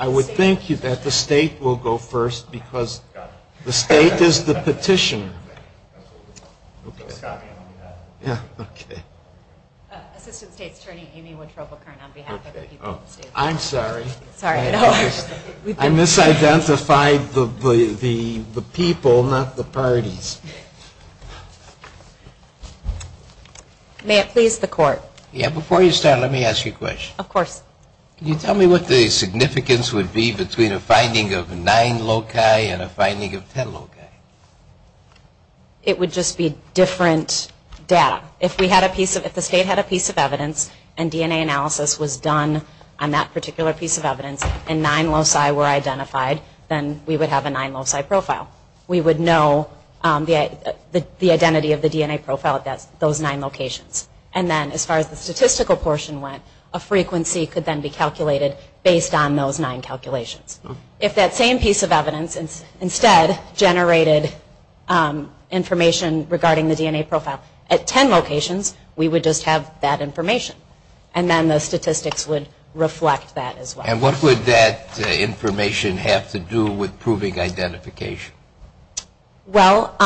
I would think that the state will go first because the state is the petition. I misidentified the people, not the parties. May it please the court. Before you start, let me ask you a question. Of course. Can you tell me what the significance would be between a finding of 9 loci and a finding of 10 loci? It would just be different data. If the state had a piece of evidence and DNA analysis was done on that particular piece of evidence and 9 loci were identified, then we would have a 9 loci profile. We would know the identity of the DNA profile at those 9 locations. And then as far as the statistical portion went, a frequency could then be calculated based on those 9 calculations. If that same piece of evidence instead generated information regarding the DNA profile at 10 locations, we would just have that information. And what would that information have to do with proving identification? Well,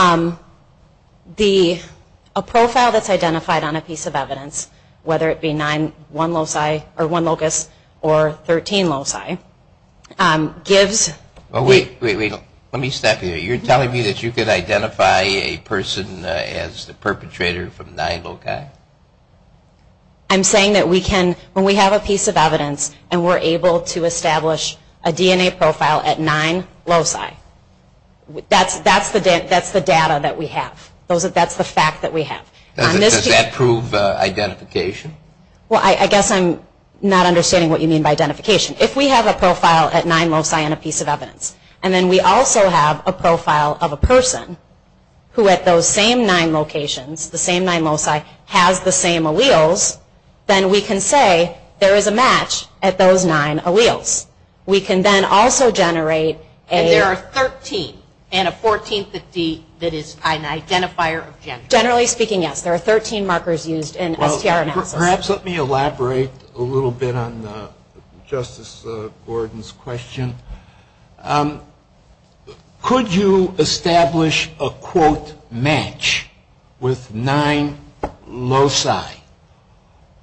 a profile that's identified on a piece of evidence, whether it be 1 locus or 13 loci, gives... Wait, let me stop you there. You're telling me that you can identify a person as the perpetrator from 9 loci? I'm saying that when we have a piece of evidence and we're able to establish a DNA profile at 9 loci, that's the data that we have. That's the fact that we have. Does that prove identification? Well, I guess I'm not understanding what you mean by identification. If we have a profile at 9 loci and a piece of evidence, and then we also have a profile of a person who at those same 9 locations, the same 9 loci, has the same alleles, then we can say there is a match at those 9 alleles. We can then also generate a... And there are 13 in a 1450 that is an identifier of gender. Generally speaking, yes. There are 13 markers used in a CRM. Perhaps let me elaborate a little bit on Justice Gordon's question. Could you establish a, quote, match with 9 loci?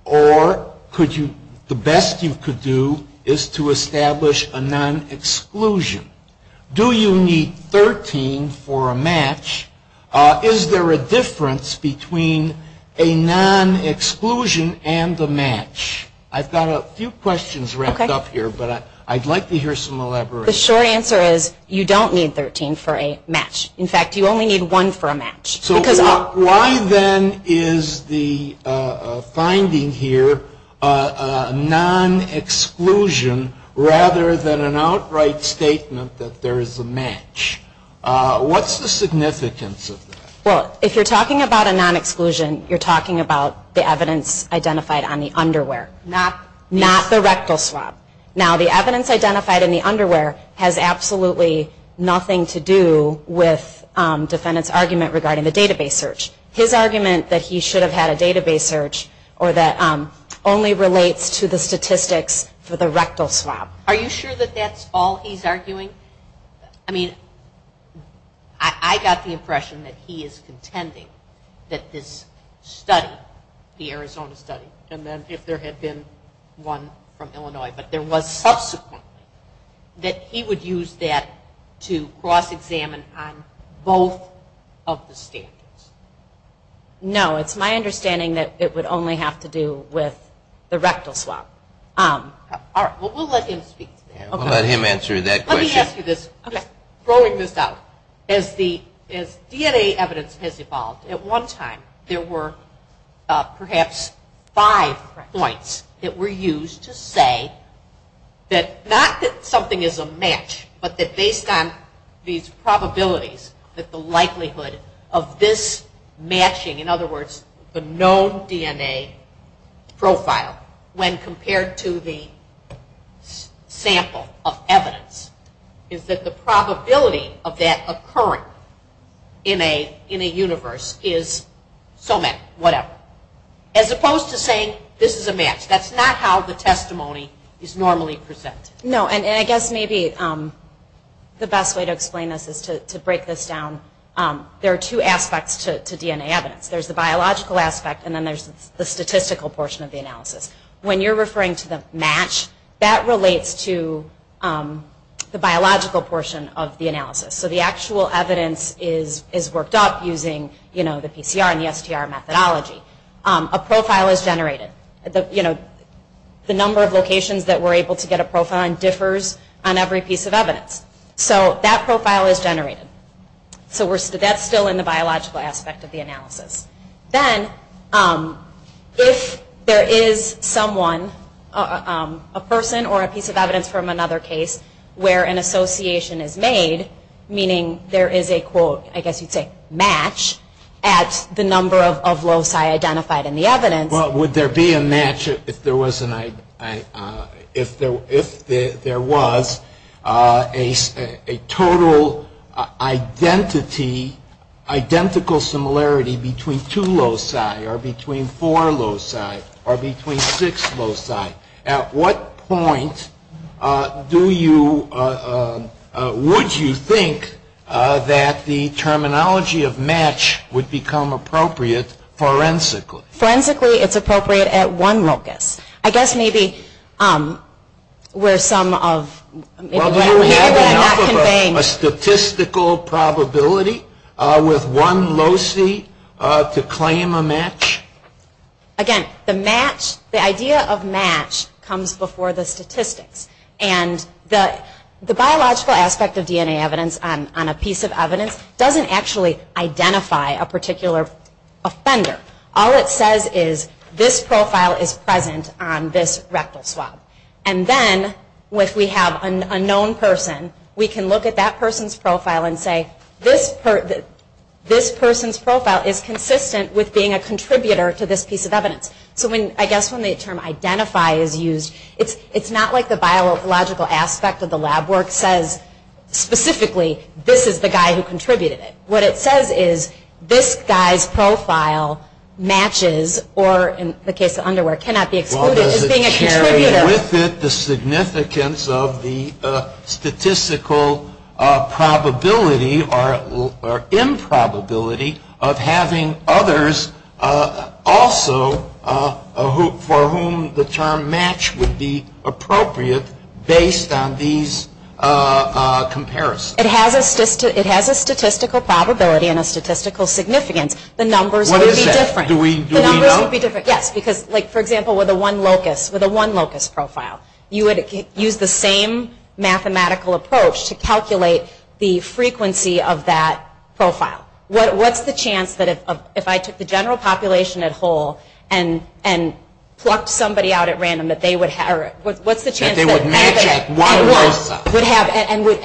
Or the best you could do is to establish a non-exclusion. Is there a difference between a non-exclusion and the match? I've got a few questions wrapped up here, but I'd like to hear some elaboration. The short answer is you don't need 13 for a match. In fact, you only need one for a match. Why then is the finding here a non-exclusion rather than an outright statement that there is a match? What's the significance of that? Well, if you're talking about a non-exclusion, you're talking about the evidence identified on the underwear, not the rectal swab. Now, the evidence identified in the underwear has absolutely nothing to do with the defendant's argument regarding the database search. His argument that he should have had a database search or that only relates to the statistics for the rectal swab. Are you sure that that's all he's arguing? I mean, I got the impression that he is contending that this study, the Arizona study, and then if there had been one from Illinois, but there was subsequent, that he would use that to cross-examine on both of the standards. No, it's my understanding that it would only have to do with the rectal swab. All right. Well, we'll let him speak. We'll let him answer that question. Let me ask you this. Okay. Scrolling this out, as the DNA evidence has evolved, at one time there were perhaps five points that were used to say that not that something is a match, but that based on these probabilities that the likelihood of this matching, in other words, the known DNA profile, when compared to the sample of evidence, is that the probability of that occurring in a universe is so matched, whatever. As opposed to saying this is a match. That's not how the testimony is normally presented. No, and I guess maybe the best way to explain this is to break this down. There are two aspects to DNA evidence. There's the biological aspect, and then there's the statistical portion of the analysis. When you're referring to the match, that relates to the biological portion of the analysis. So the actual evidence is worked up using the PCR and the FTR methodology. A profile is generated. The number of locations that we're able to get a profile on differs on every piece of evidence. So that profile is generated. So that's still in the biological aspect of the analysis. Then if there is someone, a person or a piece of evidence from another case, where an association is made, meaning there is a, I guess you'd say, match at the number of loci identified in the evidence. Well, would there be a match if there was a total identical similarity between two loci or between four loci or between six loci? At what point would you think that the terminology of match would become appropriate forensically? Forensically, it's appropriate at one locus. I guess maybe where some of the... Well, do you have a statistical probability with one loci to claim a match? Again, the match, the idea of match comes before the statistics. And the biological aspect of DNA evidence on a piece of evidence doesn't actually identify a particular offender. All it says is, this profile is present on this rectal slug. And then when we have a known person, we can look at that person's profile and say, this person's profile is consistent with being a contributor to this piece of evidence. So I guess when the term identify is used, it's not like the biological aspect of the lab work says specifically, this is the guy who contributed it. What it says is, this guy's profile matches, or in the case of underwear, cannot be excluded from being a contributor. Well, does it share with it the significance of the statistical probability or improbability of having others also, for whom the term match would be appropriate based on these comparisons? It has a statistical probability and a statistical significance. The numbers would be different. What is that? Do we know? Yes, because, for example, with a one locus profile, you would use the same mathematical approach to calculate the frequency of that profile. What's the chance that if I took the general population at whole and plucked somebody out at random, what's the chance that they would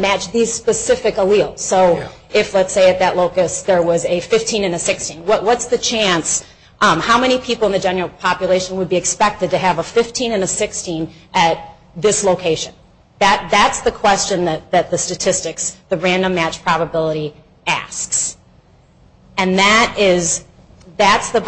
match these specific alleles? So if, let's say, at that locus there was a 15 and a 16, what's the chance, how many people in the general population would be expected to have a 15 and a 16 at this location? That's the question that the statistics, the random match probability, asks. And that is, that's the,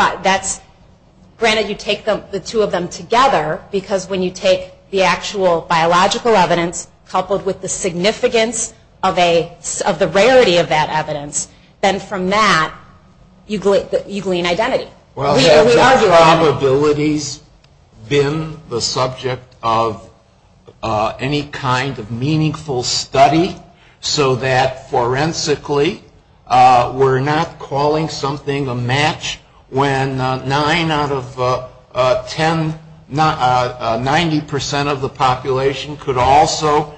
granted you take the two of them together, because when you take the actual biological evidence coupled with the significance of the rarity of that evidence, then from that you glean identity. Well, have the probabilities been the subject of any kind of meaningful study so that, forensically, we're not calling something a match when nine out of ten, 90 percent of the population could also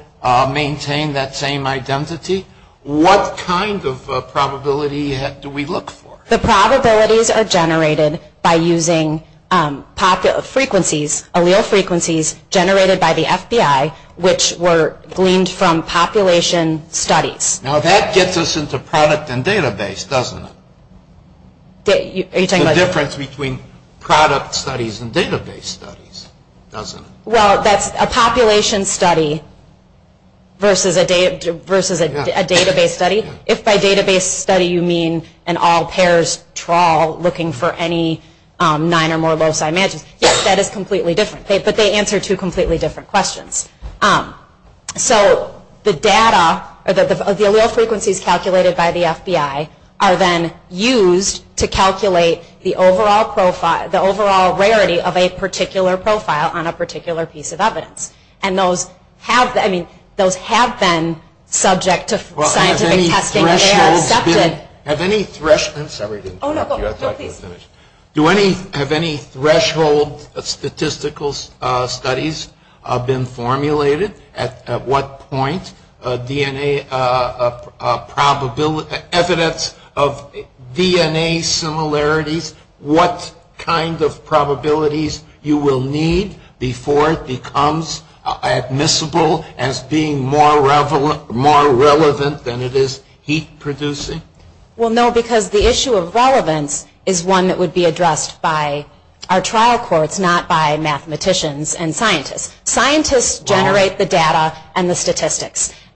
maintain that same identity? What kind of probability do we look for? The probabilities are generated by using frequencies, allele frequencies, generated by the FBI, which were gleaned from population studies. Now that gets us into product and database, doesn't it? The difference between product studies and database studies, doesn't it? Well, that's a population study versus a database study. If by database study you mean an all-pairs trawl looking for any nine or more low-side matches, yes, that is completely different, but they answer two completely different questions. So the data, the allele frequencies calculated by the FBI, are then used to calculate the overall profile, the overall rarity of a particular profile on a particular piece of evidence. And those have been subject to scientific testing. Have any threshold statistical studies been formulated? At what point evidence of DNA similarities, what kind of probabilities you will need before it becomes admissible as being more relevant than it is heat producing? Well, no, because the issue of relevance is one that would be addressed by our trial courts, not by mathematicians and scientists.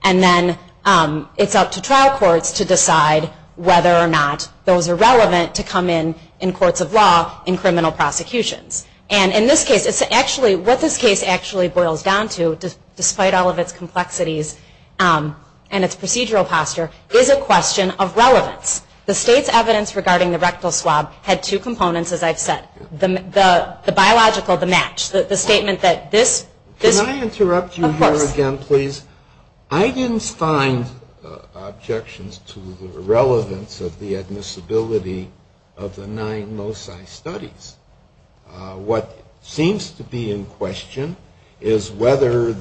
And then it's up to trial courts to decide whether or not those are relevant to come in in courts of law in criminal prosecution. And in this case, what this case actually boils down to, despite all of its complexities and its procedural posture, is a question of relevance. The state's evidence regarding the rectal swab had two components, as I've said. The biological, the match. Can I interrupt you here again, please? I didn't find objections to the relevance of the admissibility of the nine MOSI studies. What seems to be in question is whether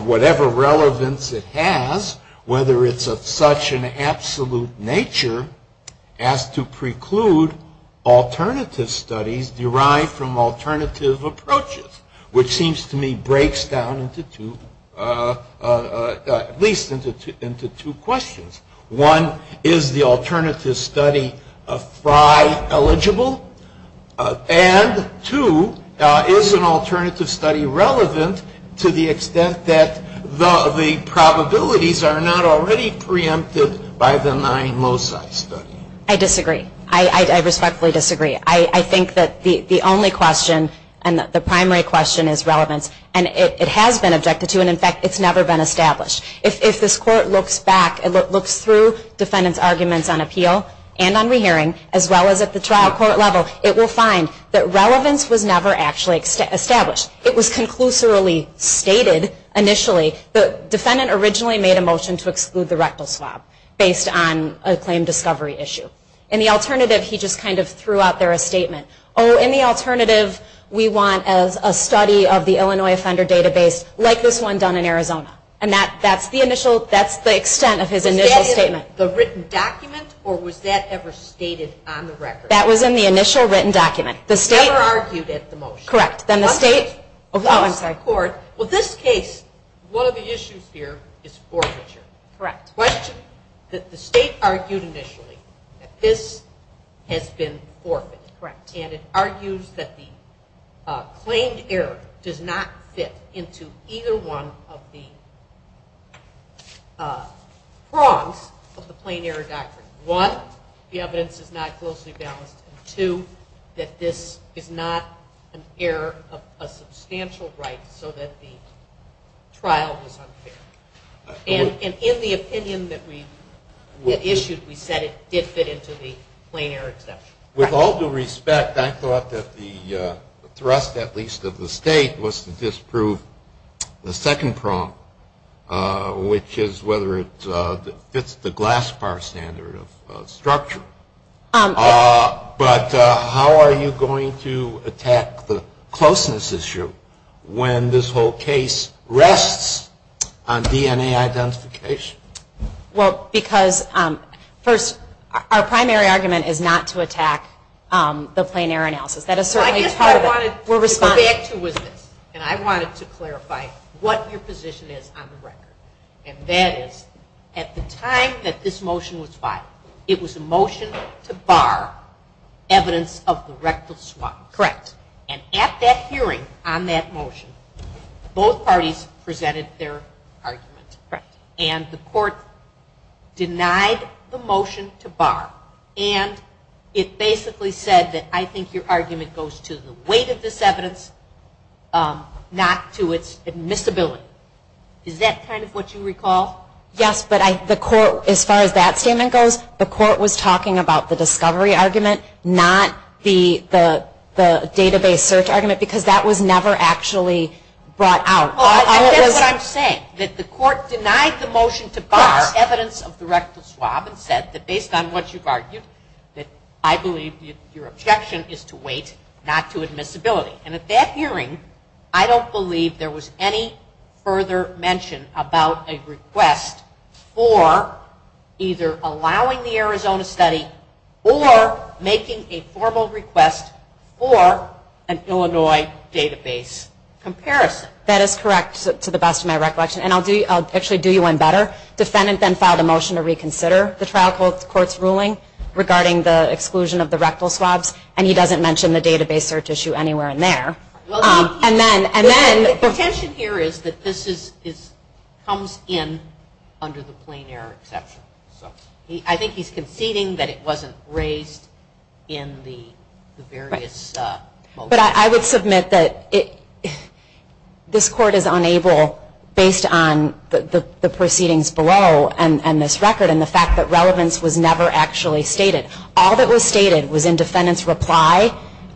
whatever relevance it has, whether it's of such an absolute nature as to preclude alternative studies derived from alternative approaches, which seems to me breaks down at least into two questions. One, is the alternative study phi eligible? And two, is an alternative study relevant to the extent that the probabilities are not already preempted by the nine MOSI study? I disagree. I respectfully disagree. I think that the only question and the primary question is relevance. And it has been objected to and, in fact, it's never been established. If this court looks back and looks through defendants' arguments on appeal and on rehearing, as well as at the trial court level, it will find that relevance was never actually established. It was conclusively stated initially. The defendant originally made a motion to exclude the rectal swab based on a claim discovery issue. In the alternative, he just kind of threw out there a statement. Oh, in the alternative, we want a study of the Illinois offender database like this one done in Arizona. And that's the initial, that's the extent of his initial statement. But that is in the written document or was that ever stated on the record? That was in the initial written document. It was never argued at the motion. Correct. Then the state. Well, in this case, one of the issues here is forfeiture. Correct. The state argued initially that this has been forfeited. Correct. And it argues that the claimed error does not fit into either one of the prongs of the plain error doctrine. One, the evidence is not closely balanced. Two, that this is not an error of a substantial right so that the trial is unfair. And in the opinion that we issued, we said it did fit into the plain error doctrine. With all due respect, I thought that the thrust at least of the state was to disprove the second prong, which is whether it fits the glass bar standard of structure. But how are you going to attack the closeness issue when this whole case rests on DNA identification? Well, because first, our primary argument is not to attack the plain error analysis. That is certainly part of it. I just wanted to go back to you with this. And I wanted to clarify what your position is on the record. And that is, at the time that this motion was filed, it was a motion to bar evidence of the record swap. Correct. And at that hearing on that motion, both parties presented their arguments. Correct. And the court denied the motion to bar. And it basically said that I think your argument goes to the weight of this evidence, not to its admissibility. Is that kind of what you recall? Yes, but the court, as far as that statement goes, the court was talking about the discovery argument, not the database search argument, because that was never actually brought out. I get what I'm saying, that the court denied the motion to bar evidence of the record swap and said that based on what you've argued, that I believe your objection is to weight, not to admissibility. And at that hearing, I don't believe there was any further mention about a request for either allowing the Arizona study or making a formal request for an Illinois database comparison. That is correct, to the best of my recollection. And I'll actually do you one better. The defendant then filed a motion to reconsider the trial court's ruling regarding the exclusion of the record swaps, and he doesn't mention the database search issue anywhere in there. The tension here is that this comes in under the plain error exception. I think he's conceding that it wasn't raised in the various motions. But I would submit that this court is unable, based on the proceedings below and this record and the fact that relevance was never actually stated. All that was stated was in defendant's reply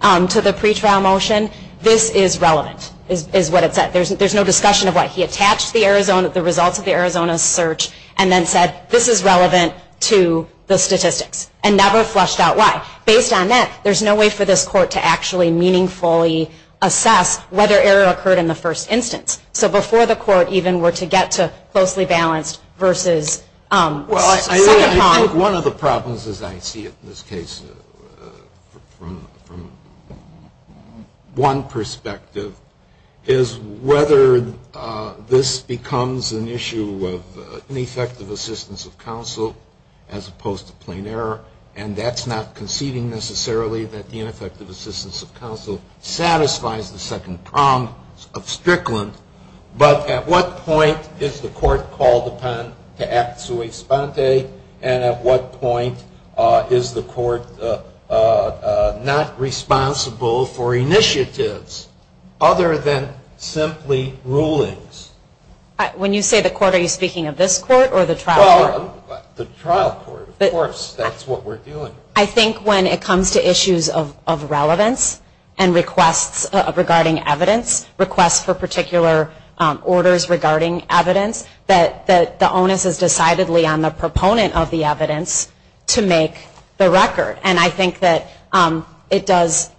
to the pretrial motion, this is relevant, is what it said. There's no discussion of why. He attached the results of the Arizona search and then said, this is relevant to the statistics, and never fleshed out why. Based on that, there's no way for this court to actually meaningfully assess whether error occurred in the first instance. So before the court even were to get to closely balanced versus... Well, I think one of the problems, as I see it in this case, from one perspective, is whether this becomes an issue of ineffective assistance of counsel as opposed to plain error, and that's not conceding necessarily that the ineffective assistance of counsel satisfies the second prong of Strickland. But at what point is the court called upon to act sui sponte, and at what point is the court not responsible for initiatives other than simply rulings? When you say the court, are you speaking of this court or the trial court? The trial court, of course. That's what we're doing. I think when it comes to issues of relevance and requests regarding evidence, requests for particular orders regarding evidence, that the onus is decidedly on the proponent of the evidence to make the record. And I think that it does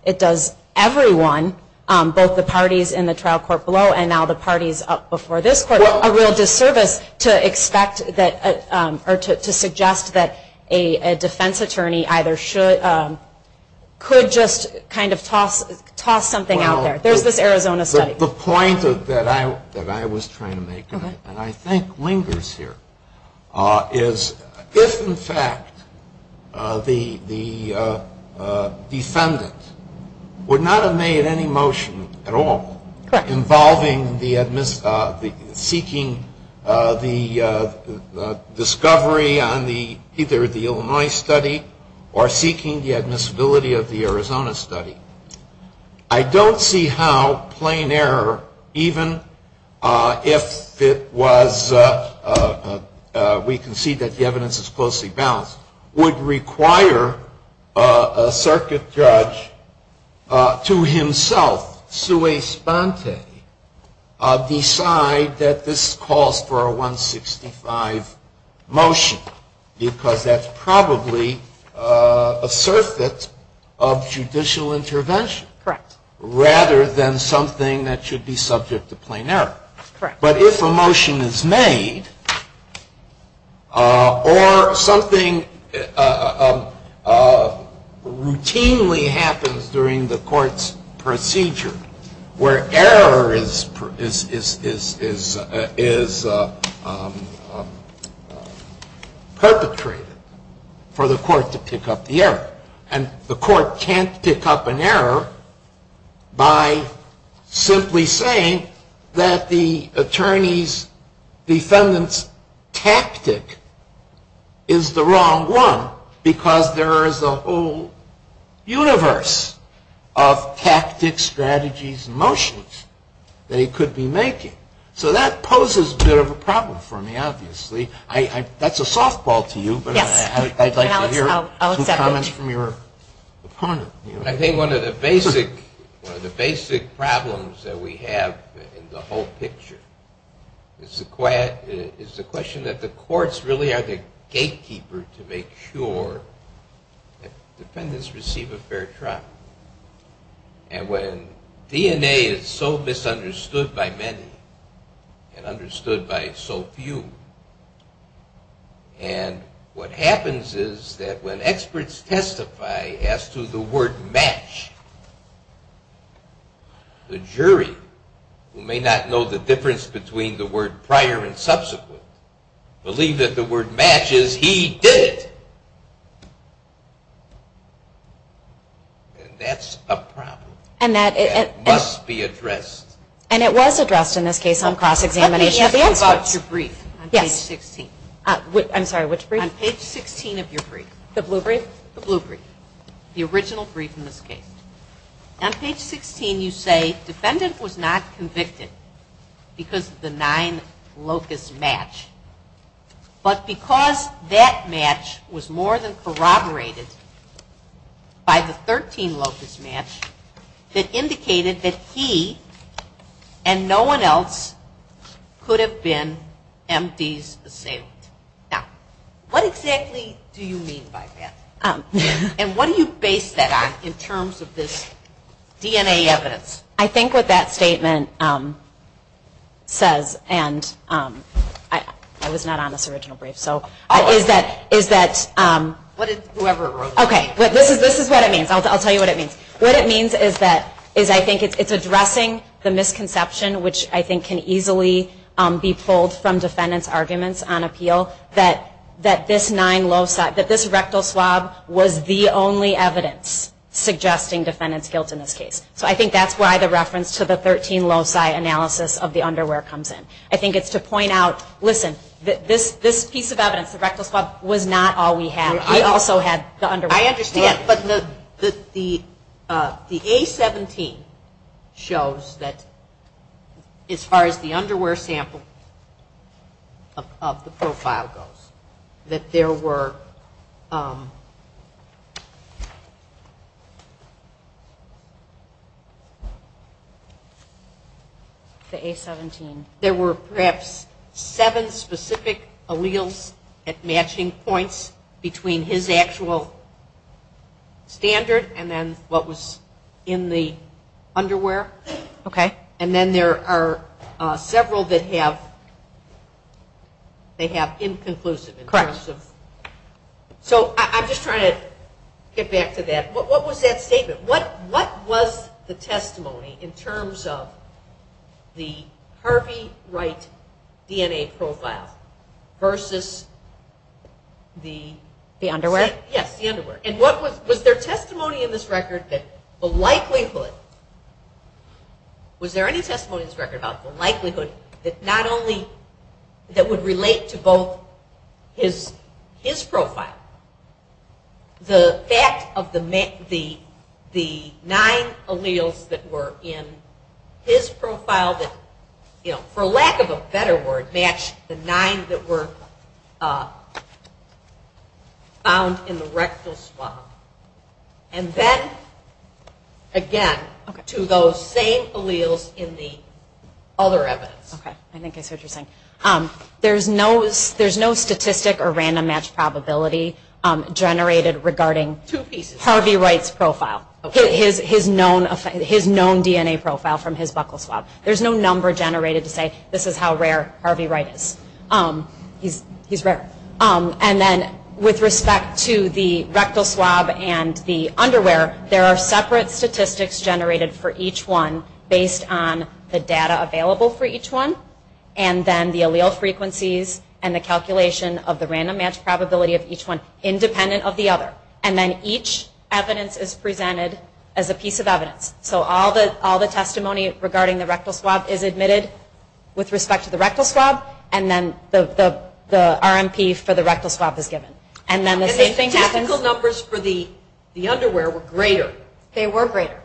everyone, both the parties in the trial court below and now the parties up before this court, a real disservice to expect or to suggest that a defense attorney either could just kind of toss something out there. There's this Arizona study. The point that I was trying to make, and I think lingers here, is if, in fact, the defendant would not have made any motion at all involving seeking the discovery on either the Illinois study or seeking the admissibility of the Arizona study, I don't see how plain error, even if it was, we can see that the evidence is closely balanced, would require a circuit judge to himself, sui sponte, decide that this calls for a 165 motion, because that's probably a circuit of judicial intervention. Correct. Rather than something that should be subject to plain error. Correct. But if a motion is made or something routinely happens during the court's procedure where error is perpetrated for the court to pick up the error, and the court can't pick up an error by simply saying that the attorney's defendant's tactic is the wrong one, because there is a whole universe of tactics, strategies, motions they could be making. So that poses a bit of a problem for me, obviously. That's a softball to you, but I'd like to hear some comments from your opponent. I think one of the basic problems that we have in the whole picture is the question that the courts really are the gatekeeper to make sure that defendants receive a fair trial. And when DNA is so misunderstood by many and understood by so few, and what happens is that when experts testify as to the word match, the jury, who may not know the difference between the word prior and subsequent, believe that the word match is he did it. And that's a problem. And that must be addressed. And it was addressed in this case on cross-examination. I'm thinking about your brief on page 16. I'm sorry, which brief? On page 16 of your brief. The blue brief? The blue brief. The original brief in this case. On page 16 you say, defendant was not convicted because of the nine locus match, but because that match was more than corroborated by the 13 locus match that indicated that he and no one else could have been M.D.'s assailant. Now, what exactly do you mean by that? And what do you base that on in terms of this DNA evidence? I think what that statement says, and I was not on this original brief, so is that. Whatever it was. Okay. This is what it means. I'll tell you what it means. What it means is that I think it's addressing the misconception, which I think can easily be pulled from defendants' arguments on appeal, that this nine loci, that this rectal swab was the only evidence suggesting defendant's guilt in this case. So I think that's why the reference to the 13 loci analysis of the underwear comes in. I think it's to point out, listen, this piece of evidence, the rectal swab, was not all we had. We also had the underwear sample. I understand, but the A-17 shows that as far as the underwear sample of the profile goes, that there were perhaps seven specific alleles at matching points between his actual standard and then what was in the underwear. Okay. And then there are several that have inconclusive. Correct. So I'm just trying to get back to that. What was that statement? What was the testimony in terms of the Harvey Wright DNA profile versus the underwear? Yes, the underwear. And was there testimony in this record that the likelihood, was there any testimony in this record about the likelihood that not only, that would relate to both his profile, the fact of the nine alleles that were in his profile that, for lack of a better word, matched the nine that were found in the rectal swab. And then, again, to those same alleles in the other evidence. Okay. I think I see what you're saying. There's no statistic or random match probability generated regarding Harvey Wright's profile, his known DNA profile from his rectal swab. There's no number generated to say this is how rare Harvey Wright is. He's rare. And then with respect to the rectal swab and the underwear, there are separate statistics generated for each one based on the data available for each one, and then the allele frequencies and the calculation of the random match probability of each one, independent of the other. And then each evidence is presented as a piece of evidence. So all the testimony regarding the rectal swab is admitted with respect to the rectal swab, and then the RMP for the rectal swab is given. And the statistical numbers for the underwear were greater. They were greater.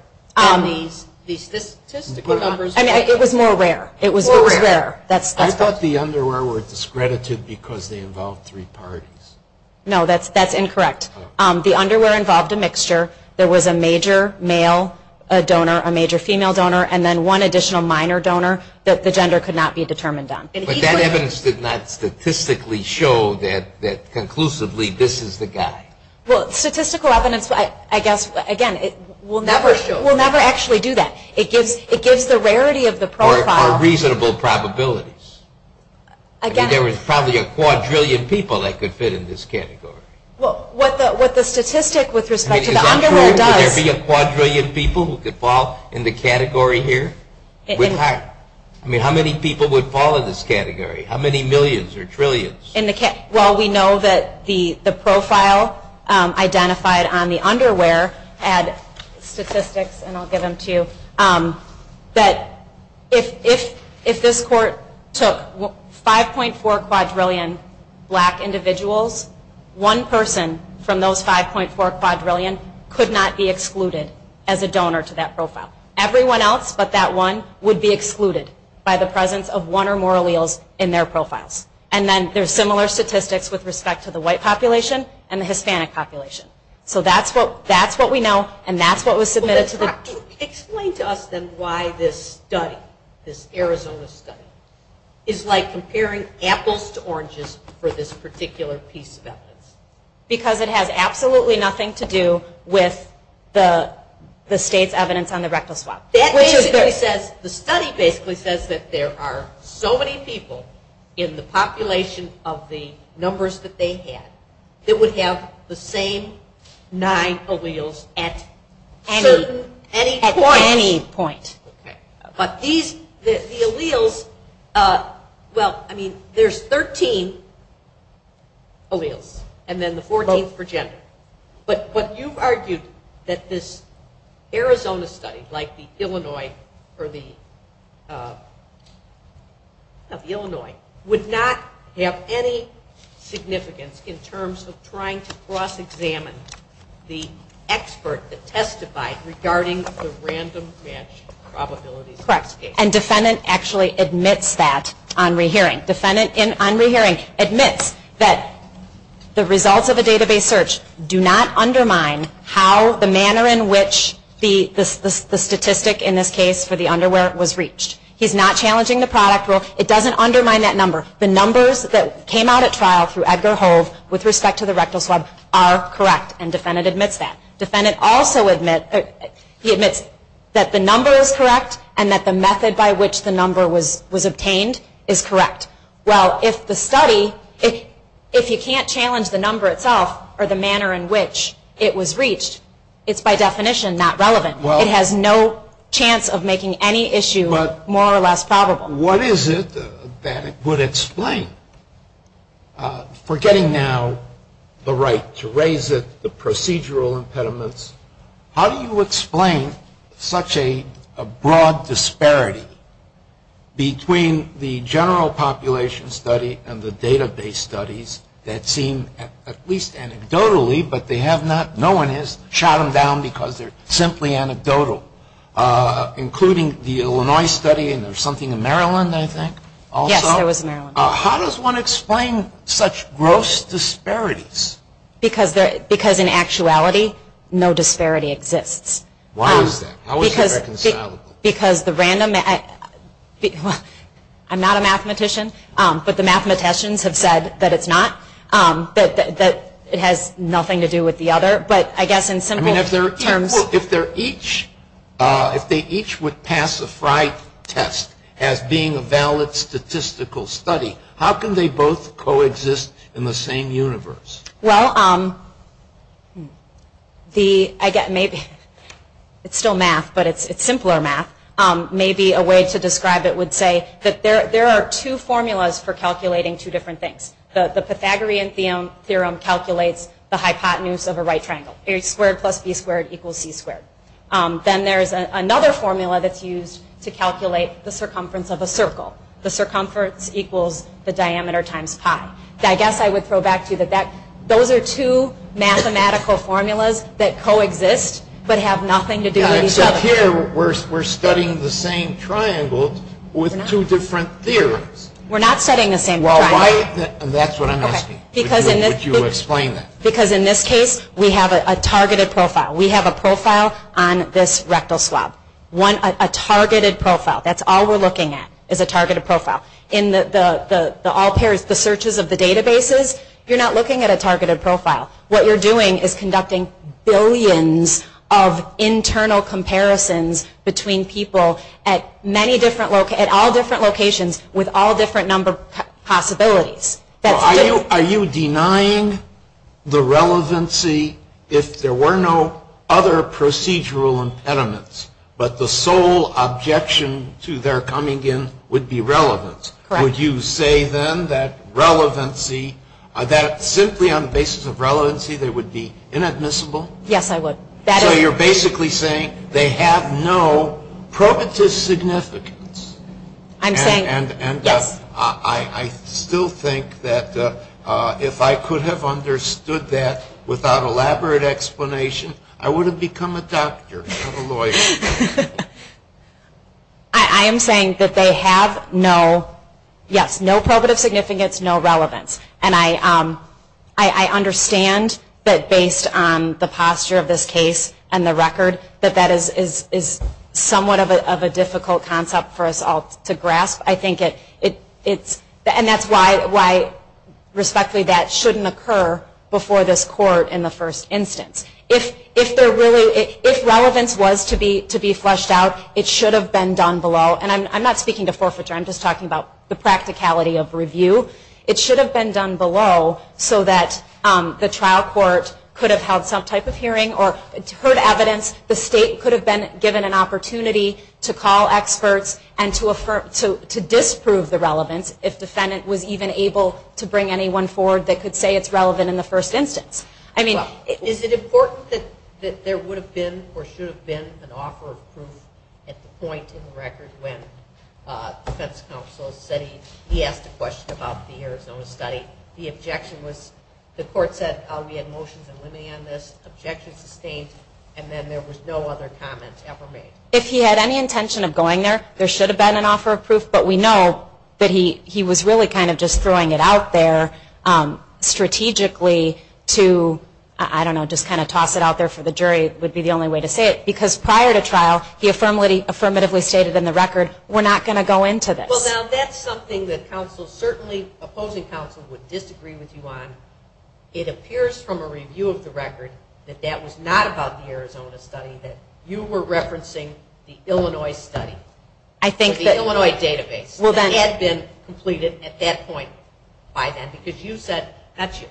The statistical numbers. I mean, it was more rare. It was more rare. I thought the underwear were discredited because they involved three parts. No, that's incorrect. The underwear involved a mixture. There was a major male donor, a major female donor, and then one additional minor donor that the gender could not be determined on. But that evidence did not statistically show that conclusively this is the guy. Well, statistical evidence, I guess, again, will never actually do that. It gives the rarity of the profile. Or reasonable probabilities. I mean, there was probably a quadrillion people that could fit in this category. Well, what the statistic with respect to the underwear does. Would there be a quadrillion people who could fall in the category here? With heart. With heart. I mean, how many people would fall in this category? How many millions or trillions? Well, we know that the profile identified on the underwear had statistics, and I'll give them to you, that if this court took 5.4 quadrillion black individuals, one person from those 5.4 quadrillion could not be excluded as a donor to that profile. Everyone else but that one would be excluded by the presence of one or more alleles in their profiles. And then there's similar statistics with respect to the white population and the Hispanic population. So that's what we know, and that's what was submitted to the court. Explain to us, then, why this study, this Arizona study, is like comparing apples to oranges for this particular piece of evidence. Because it has absolutely nothing to do with the state's evidence on the rectal swabs. The study basically says that there are so many people in the population of the numbers that they had that would have the same nine alleles at any point. But these, the alleles, well, I mean, there's 13 alleles, and then the 14th for gender. But you've argued that this Arizona study, like the Illinois, or the, the Illinois would not have any significance in terms of trying to cross-examine the expert that testified regarding the random match probability. Correct. And defendant actually admits that on rehearing. Defendant on rehearing admits that the results of a database search do not undermine how, the manner in which the statistic, in this case, for the underwear was reached. He's not challenging the product rule. It doesn't undermine that number. The numbers that came out at trial through eggs or holes with respect to the rectal swabs are correct, and defendant admits that. Defendant also admits, he admits that the number is correct and that the method by which the number was obtained is correct. Well, if the study, if he can't challenge the number itself or the manner in which it was reached, it's by definition not relevant. It has no chance of making any issue more or less probable. What is it that would explain, forgetting now the right to raise it, the procedural impediments, how do you explain such a broad disparity between the general population study and the database studies that seem, at least anecdotally, but they have not, no one has shot them down because they're simply anecdotal, including the Illinois study, and there's something in Maryland, I think, also. Yes, there was in Maryland. How does one explain such gross disparities? Because in actuality, no disparity exists. Why is that? How is that reconcilable? Because the random, I'm not a mathematician, but the mathematicians have said that it's not, that it has nothing to do with the other, but I guess in simple terms. If they each would pass a FRITE test as being a valid statistical study, how can they both coexist in the same universe? Well, I guess maybe it's still math, but it's simpler math. Maybe a way to describe it would say that there are two formulas for calculating two different things. The Pythagorean theorem calculates the hypotenuse of a right triangle. h squared plus b squared equals c squared. Then there's another formula that's used to calculate the circumference of a circle. The circumference equals the diameter times pi. I guess I would throw back to you that those are two mathematical formulas that coexist, but have nothing to do with each other. Except here, we're studying the same triangle with two different theorems. We're not studying the same triangle. That's what I'm asking. Would you explain that? Because in this case, we have a targeted profile. We have a profile on this rectal slab. A targeted profile. That's all we're looking at is a targeted profile. In the searches of the databases, you're not looking at a targeted profile. What you're doing is conducting billions of internal comparisons between people at all different locations with all different number of possibilities. Are you denying the relevancy if there were no other procedural impediments, but the sole objection to their coming in would be relevant? Correct. Would you say then that relevancy, that simply on the basis of relevancy, they would be inadmissible? Yes, I would. So you're basically saying they have no propitious significance. And I still think that if I could have understood that without elaborate explanation, I would have become a doctor, not a lawyer. I am saying that they have no, yes, no propitious significance, no relevance. And I understand that based on the posture of this case and the record, that that is somewhat of a difficult concept for us all to grasp. And that's why, respectfully, that shouldn't occur before this court in the first instance. If relevance was to be flushed out, it should have been done below. And I'm not speaking to forfeiture. I'm just talking about the practicality of review. It should have been done below so that the trial court could have held some type of hearing or heard evidence the state could have been given an opportunity to call experts and to disprove the relevance if the Senate was even able to bring anyone forward that could say it's relevant in the first instance. I mean, is it important that there would have been or should have been an offer of proof at the point in the record when the defense counsel said he asked a question about the Arizona study, the objection was the court said, and then there was no other comments ever made. If he had any intention of going there, there should have been an offer of proof. But we know that he was really kind of just throwing it out there strategically to, I don't know, just kind of toss it out there for the jury would be the only way to say it. Because prior to trial, he affirmatively stated in the record, we're not going to go into this. Well, now, that's something that counsel, certainly opposing counsel, would disagree with you on. It appears from a review of the record that that was not about the Arizona study, that you were referencing the Illinois study, the Illinois database, that had been completed at that point by then. Because you said, not you,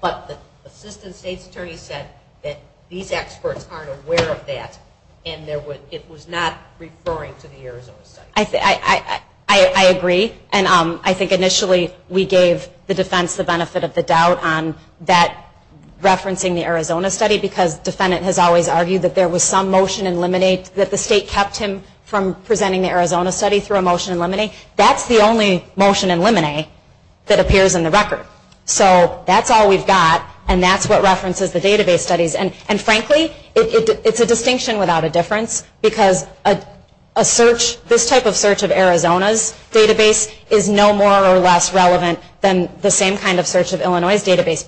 but the assistant state attorney said that these experts aren't aware of that and it was not referring to the Arizona study. I agree. And I think initially we gave the defense the benefit of the doubt on that referencing the Arizona study because the defendant has always argued that there was some motion in Lemonade that the state kept him from presenting the Arizona study through a motion in Lemonade. That's the only motion in Lemonade that appears in the record. So that's all we've got and that's what references the database studies. And frankly, it's a distinction without a difference. Because this type of search of Arizona's database is no more or less relevant than the same kind of search of Illinois' database.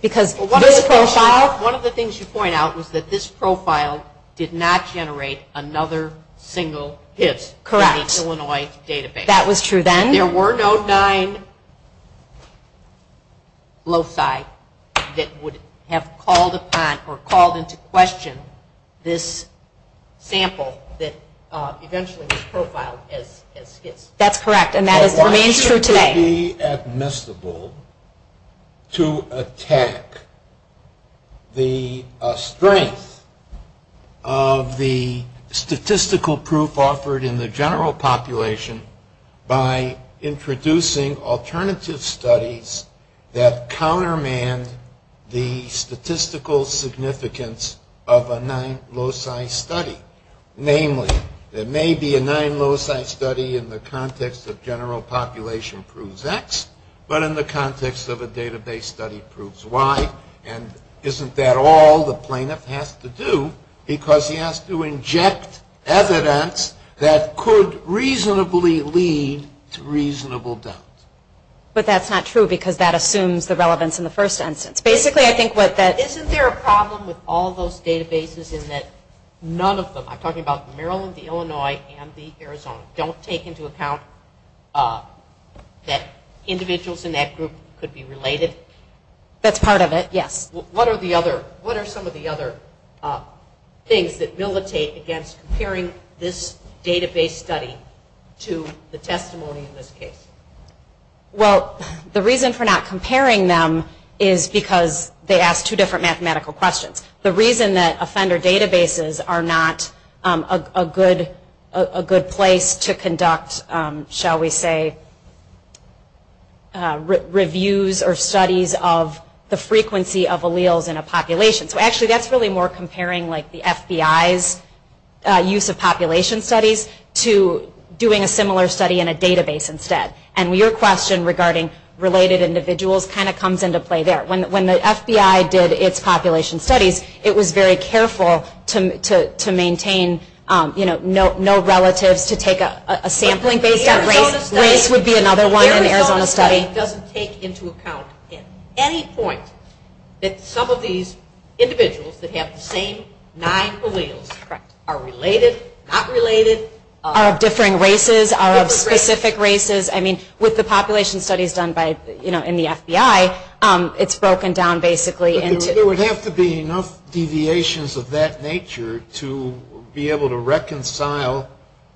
One of the things you point out was that this profile did not generate another single hit. Correct. In the Illinois database. That was true then. There were no nine loci that would have called upon or called into question this sample that eventually was profiled as hits. That's correct and that is the answer today. It's highly admissible to attack the strength of the statistical proof offered in the general population by introducing alternative studies that countermand the statistical significance of a nine loci study. Namely, there may be a nine loci study in the context of general population proves X, but in the context of a database study proves Y. And isn't that all the plaintiff has to do? Because he has to inject evidence that could reasonably lead to reasonable doubt. But that's not true because that assumes the relevance in the first instance. Isn't there a problem with all those databases in that none of them, I'm talking about the Maryland, the Illinois, and the Arizona, don't take into account that individuals in that group could be related? That's part of it, yes. What are some of the other things that militate against comparing this database study to the testimony in this case? Well, the reason for not comparing them is because they ask two different mathematical questions. The reason that offender databases are not a good place to conduct, shall we say, reviews or studies of the frequency of alleles in a population. So actually that's really more comparing like the FBI's use of population studies to doing a similar study in a database instead. And your question regarding related individuals kind of comes into play there. When the FBI did its population studies, it was very careful to maintain, you know, no relatives to take a sampling base. This would be another one in Arizona study. It doesn't take into account at any point that some of these individuals that have the same nine alleles are related, not related. Are of different races, are of specific races. I mean, with the population studies done by, you know, in the FBI, it's broken down basically. There would have to be enough deviations of that nature to be able to reconcile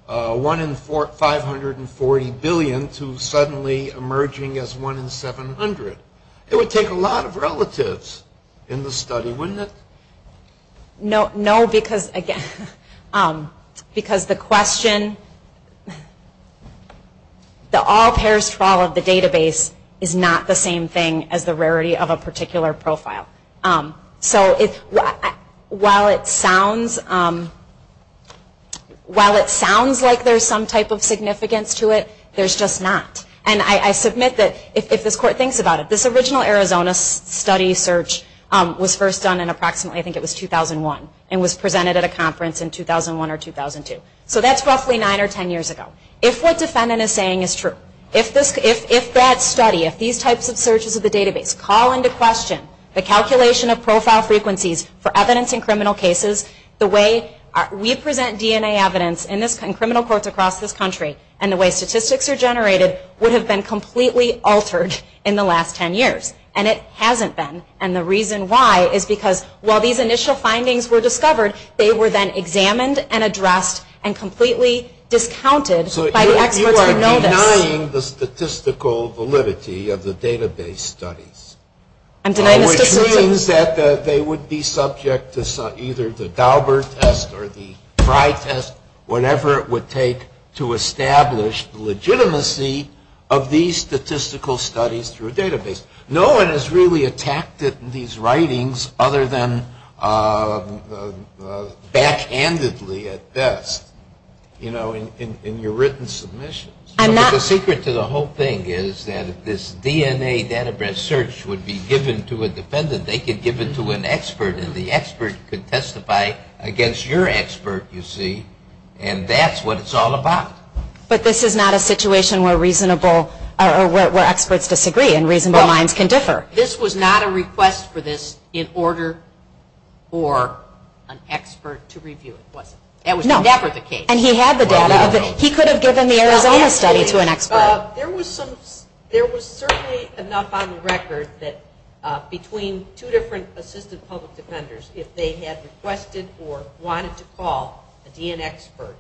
one in 540 billion to suddenly emerging as one in 700. It would take a lot of relatives in the study, wouldn't it? No, because again, because the question, the all pairs fall of the database is not the same thing as the rarity of a particular profile. So while it sounds like there's some type of significance to it, there's just not. And I submit that if this court thinks about it, this original Arizona study search was first done in approximately, I think it was 2001, and was presented at a conference in 2001 or 2002. So that's roughly nine or ten years ago. If what the defendant is saying is true, if that study, if these types of searches of the database call into question the calculation of profile frequencies for evidence in criminal cases, the way we present DNA evidence in criminal courts across this country and the way statistics are generated would have been completely altered in the last ten years. And it hasn't been. And the reason why is because while these initial findings were discovered, they were then examined and addressed and completely discounted by the experts who already know this. So you're denying the statistical validity of the database studies. I'm denying the statistics. Which means that they would be subject to either the Daubert test or the Frye test, whatever it would take to establish the legitimacy of these statistical studies through a database. No one has really attacked these writings other than backhandedly at best in your written submissions. The secret to the whole thing is that if this DNA database search would be given to a defendant, then they could give it to an expert and the expert could testify against your expert, you see. And that's what it's all about. But this is not a situation where reasonable or where experts disagree and reasonable minds can differ. This was not a request for this in order for an expert to review. That was never the case. And he had the data. He could have given the Arizona study to an expert. There was certainly enough on the record that between two different assistant public defenders, if they had requested or wanted to call a DNA expert,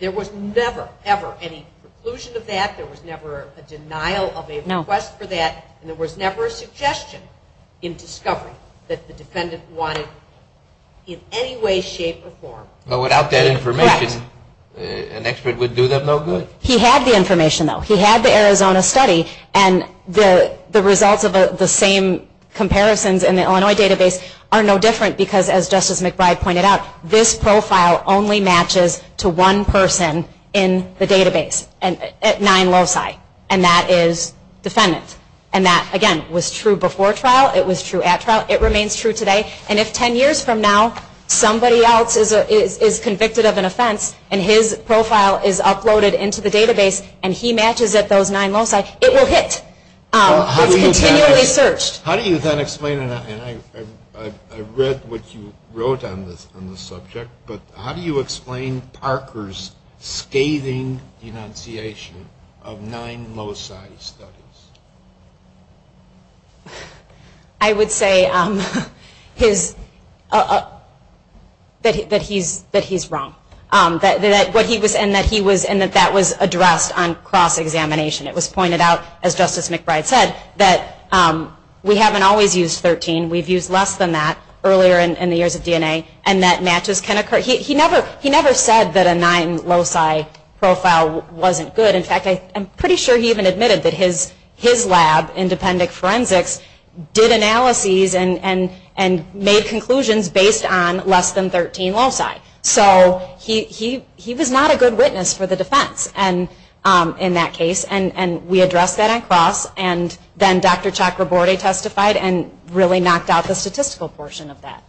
there was never, ever any conclusion of that. There was never a denial of a request for that. There was never a suggestion in discovery that the defendant wanted in any way, shape, or form. But without that information, an expert would do them no good. He had the information, though. He had the Arizona study. And the results of the same comparisons in the Illinois database are no different because, as Justice McBride pointed out, this profile only matches to one person in the database at nine loci, and that is defendants. And that, again, was true before trial. It was true at trial. It remains true today. And if ten years from now somebody else is convicted of an offense and his profile is uploaded into the database and he matches it to those nine loci, it will hit. It will be continually searched. How do you then explain, and I read what you wrote on this subject, but how do you explain Parker's scathing denunciation of nine loci studies? I would say that he's wrong, and that that was addressed on cross-examination. It was pointed out, as Justice McBride said, that we haven't always used 13. We've used less than that earlier in the years of DNA, and that matches can occur. He never said that a nine loci profile wasn't good. In fact, I'm pretty sure he even admitted that his lab, Independence Forensics, did analyses and made conclusions based on less than 13 loci. So he was not a good witness for the defense in that case, and we addressed that on cross, and then Dr. Chakraborty testified and really knocked out the statistical portion of that.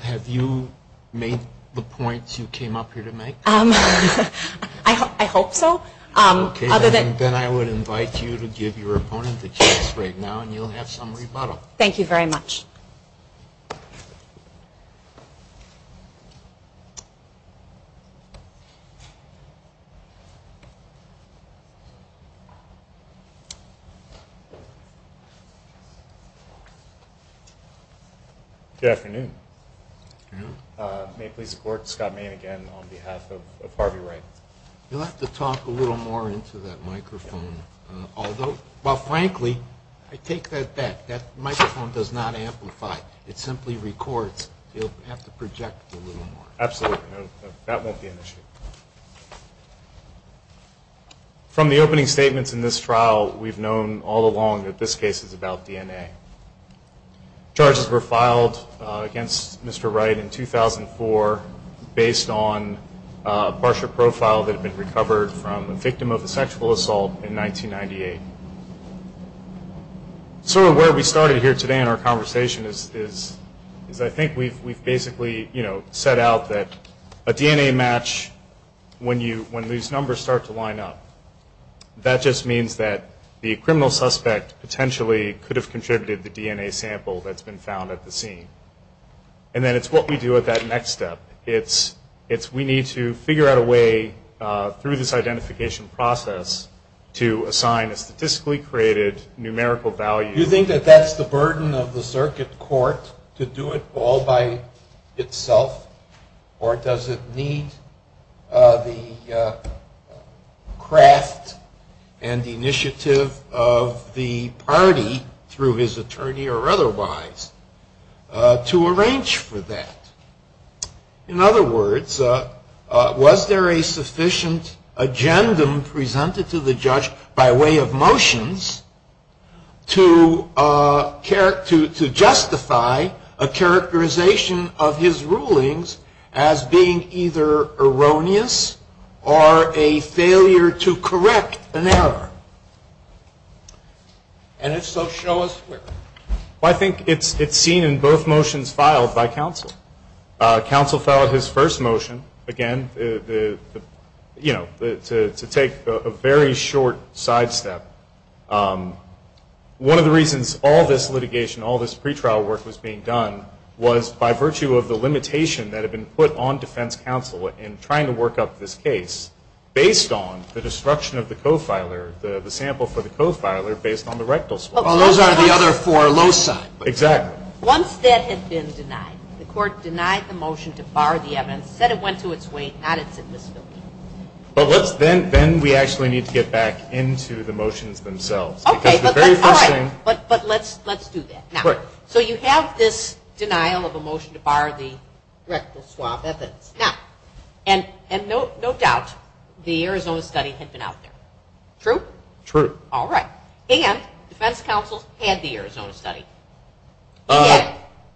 Have you made the points you came up here to make? I hope so. Then I would invite you to give your opponent a chance right now, and you'll have some rebuttal. Thank you very much. Good afternoon. May I please report to Scott Mayne again on behalf of Harvey Ray? You'll have to talk a little more into that microphone. Although, frankly, take that back. That microphone does not amplify. It simply records. You'll have to project a little more. Absolutely. That won't be an issue. From the opening statements in this trial, we've known all along that this case is about DNA. Charges were filed against Mr. Wright in 2004 based on a brochure profile that had been recovered from a victim of a sexual assault in 1998. Sort of where we started here today in our conversation is I think we basically set out that a DNA match when these numbers start to line up, that just means that the criminal suspect potentially could have contributed the DNA sample that's been found at the scene. And then it's what we do at that next step. We need to figure out a way through this identification process to assign a statistically created numerical value. Do you think that that's the burden of the circuit court to do it all by itself, or does it need the craft and initiative of the party through his attorney or otherwise to arrange for that? In other words, was there a sufficient agendum presented to the judge by way of motions to justify a characterization of his rulings as being either erroneous or a failure to correct an error? And if so, show us here. Well, I think it's seen in both motions filed by counsel. Counsel filed his first motion, again, to take a very short sidestep. One of the reasons all this litigation, all this pretrial work was being done, was by virtue of the limitation that had been put on defense counsel in trying to work out this case, based on the disruption of the co-filer, the sample for the co-filer based on the rectal swab. Well, those are the other four loci. Exactly. Once that had been denied, the court denied the motion to bar the evidence, said it went to its weight, not its existence. Then we actually need to get back into the motions themselves. Okay, but let's do that. So you have this denial of the motion to bar the rectal swab evidence. Now, and no doubt, the Arizona study had been out there. True? True. All right. And defense counsel had the Arizona study.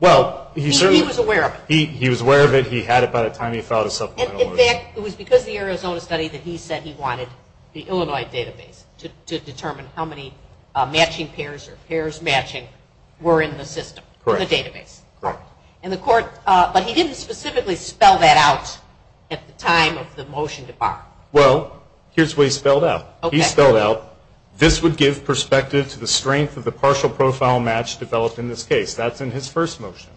Well, he was aware of it. He was aware of it. He had it by the time he filed a supplemental order. In fact, it was because of the Arizona study that he said he wanted the Illinois database to determine how many matching pairs or pairs matching were in the database. Correct. But he didn't specifically spell that out at the time of the motion to bar. Well, here's what he spelled out. Okay. He spelled out, this would give perspective to the strength of the partial profile match developed in this case. That's in his first motion.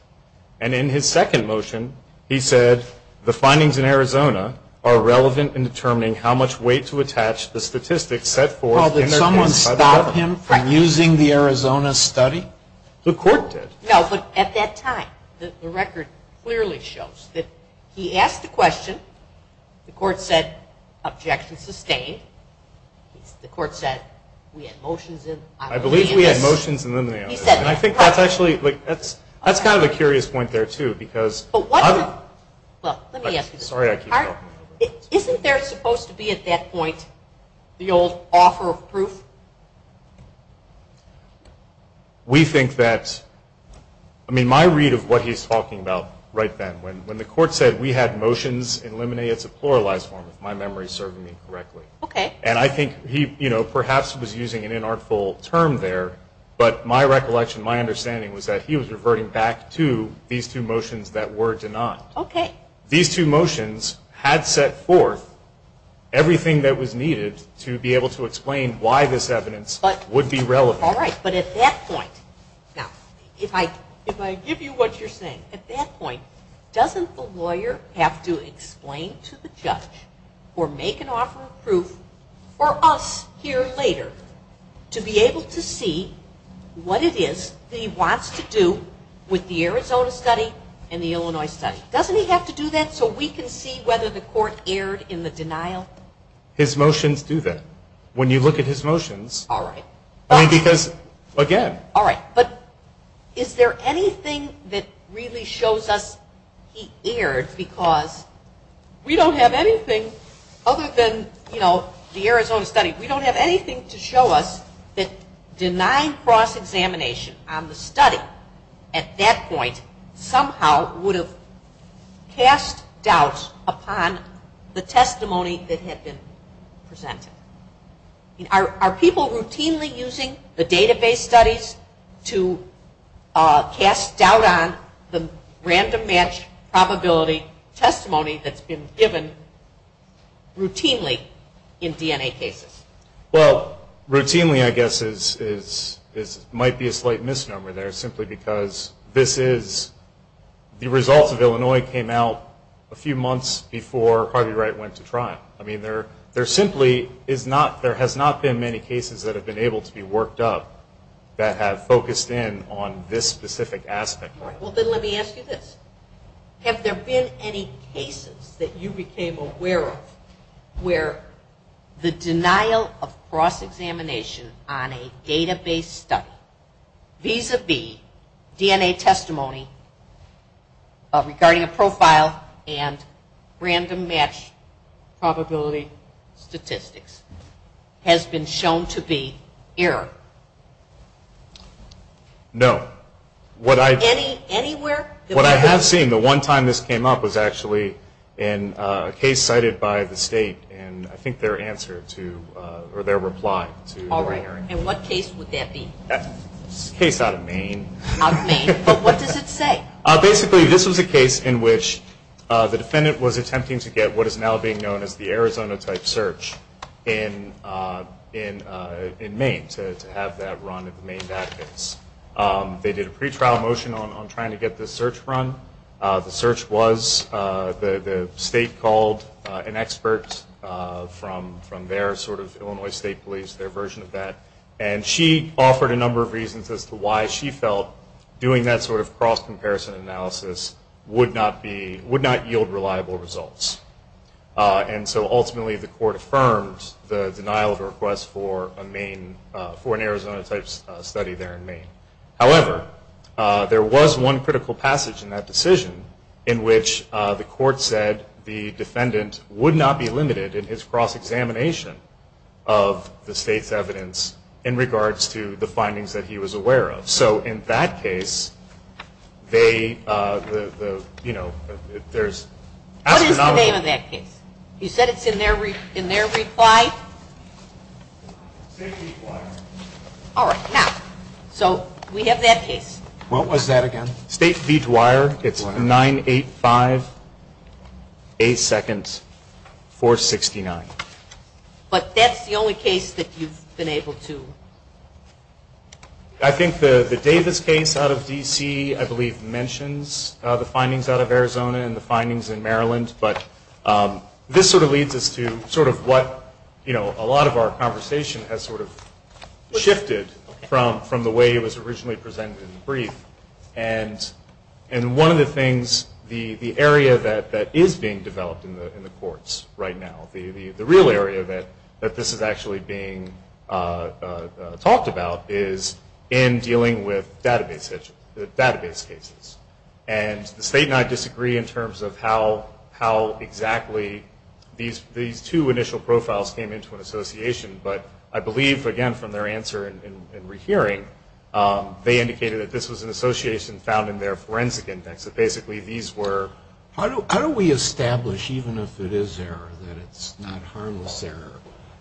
And in his second motion, he said the findings in Arizona are relevant in determining how much weight to attach the statistics set forth in Arizona. Well, did someone stop him from using the Arizona study? The court did. No, but at that time, the record clearly shows that he asked a question, the court said, objection sustained. The court said, we had motions in Illinois. I believe we had motions in Illinois. And I think that's actually, that's kind of a curious point there, too, because. Well, let me ask you this. Sorry, I keep talking. Isn't there supposed to be at that point the old offer of proof? We think that, I mean, my read of what he's talking about right then, when the court said we had motions in Illinois, it's a pluralized form, if my memory serves me correctly. Okay. And I think he, you know, perhaps was using an inartful term there, but my recollection, my understanding, was that he was reverting back to these two motions that were denied. Okay. These two motions had set forth everything that was needed to be able to explain why this evidence would be relevant. All right, but at that point, now, if I give you what you're saying, at that point, doesn't the lawyer have to explain to the judge or make an offer of proof for us here later to be able to see what it is that he wants to do with the Arizona study and the Illinois study? Doesn't he have to do that so we can see whether the court erred in the denial? His motions do that. When you look at his motions. All right. And because, again. All right. But is there anything that really shows us he erred because we don't have anything other than, you know, the Arizona study. We don't have anything to show us that denying cross-examination on the study at that point somehow would have cast doubts upon the testimony that had been presented. Are people routinely using the database studies to cast doubt on the random match probability testimony that's been given routinely in DNA cases? Well, routinely, I guess, might be a slight misnomer there simply because this is the result of Illinois came out a few months before Harvey Wright went to trial. I mean, there simply has not been many cases that have been able to be worked up that have focused in on this specific aspect. Well, then let me ask you this. Have there been any cases that you became aware of where the denial of cross-examination on a database study vis-a-vis DNA testimony regarding a profile and random match probability statistics has been shown to be error? No. Anywhere? What I have seen, the one time this came up was actually in a case cited by the state and I think their answer to, or their reply. All right. And what case would that be? A case out of Maine. Out of Maine. But what does it say? Basically, this is a case in which the defendant was attempting to get what is now being known as the Arizona type search in Maine to have that run in the Maine database. They did a pretrial motion on trying to get this search run. The search was the state called an expert from their sort of Illinois State Police, their version of that, and she offered a number of reasons as to why she felt doing that sort of cross-comparison analysis would not yield reliable results. And so ultimately the court affirmed the denial of request for an Arizona type study there in Maine. However, there was one critical passage in that decision in which the court said the defendant would not be limited in his cross-examination of the state's evidence in regards to the findings that he was aware of. So in that case, they, you know, there's... What is the name of that case? You said it's in their reply? State Beech Wire. All right. Now, so we have that case. What was that again? State Beech Wire. It's 985-8 seconds, 469. But that's the only case that you've been able to... I think the Davis case out of D.C., I believe, mentions the findings out of Arizona and the findings in Maryland, but this sort of leads us to sort of what, you know, a lot of our conversation has sort of shifted from the way it was originally presented in the brief. And one of the things, the area that is being developed in the courts right now, the real area that this is actually being talked about is in dealing with database cases. And the state and I disagree in terms of how exactly these two initial profiles came into an association, but I believe, again, from their answer in rehearing, they indicated that this was an association found in their forensic index. So basically these were... How do we establish, even if it is error, that it's not harmless error?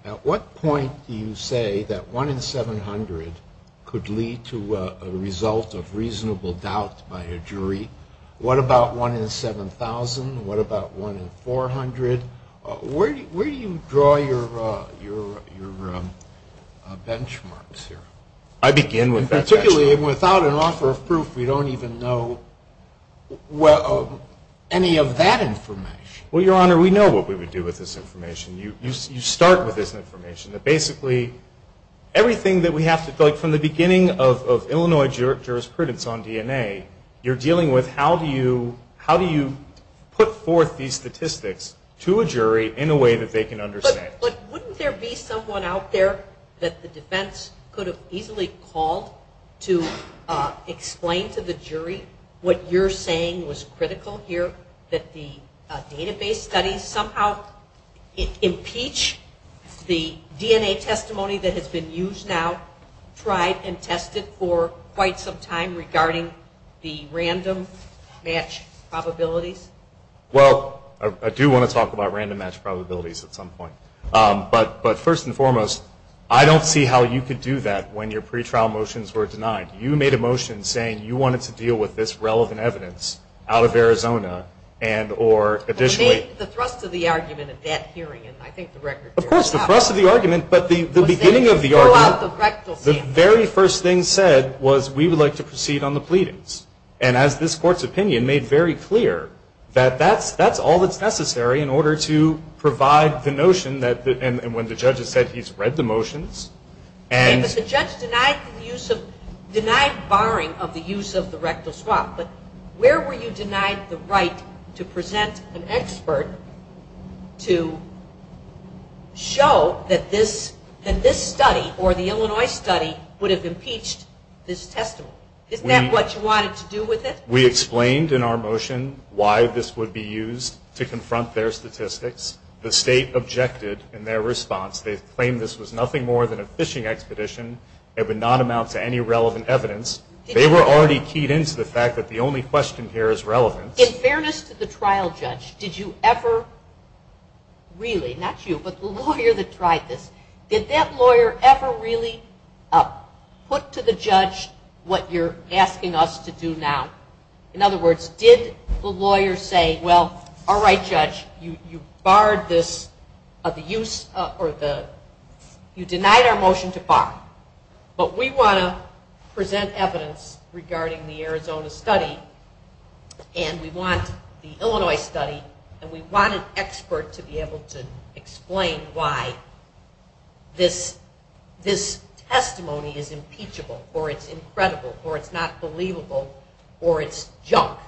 At what point do you say that 1 in 700 could lead to a result of reasonable doubt by a jury? What about 1 in 7,000? What about 1 in 400? Where do you draw your benchmarks here? Particularly without an offer of proof, we don't even know any of that information. Well, Your Honor, we know what we would do with this information. You start with this information. Basically, everything that we have to... From the beginning of Illinois jurisprudence on DNA, you're dealing with how do you put forth these statistics to a jury in a way that they can understand. Wouldn't there be someone out there that the defense could have easily called to explain to the jury what you're saying was critical here, that the database studies somehow impeach the DNA testimony that has been used now, tried, and tested for quite some time regarding the random match probability? Well, I do want to talk about random match probabilities at some point. But first and foremost, I don't see how you could do that when your pre-trial motions were denied. You made a motion saying you wanted to deal with this relevant evidence out of Arizona and or additionally... The thrust of the argument at that hearing, and I think the record... Of course, the thrust of the argument, but the beginning of the argument... The very first thing said was we would like to proceed on the pleadings. And as this court's opinion made very clear, that that's all that's necessary in order to provide the notion that... And when the judge has said he's read the motions and... If it's just denied borrowing of the use of the rectal swab, but where were you denied the right to present an expert to show that this study or the Illinois study would have impeached this testimony? Is that what you wanted to do with it? We explained in our motion why this would be used to confront their statistics. The state objected in their response. They claimed this was nothing more than a fishing expedition. It would not amount to any relevant evidence. They were already keyed into the fact that the only question here is relevant. In fairness to the trial judge, did you ever... Really, not you, but the lawyer that tried this, did that lawyer ever really put to the judge what you're asking us to do now? In other words, did the lawyer say, well, all right, judge, you've denied our motion to file, but we want to present evidence regarding the Arizona study and we want the Illinois study and we want an expert to be able to explain why this testimony is impeachable or it's incredible or it's not believable or it's junk?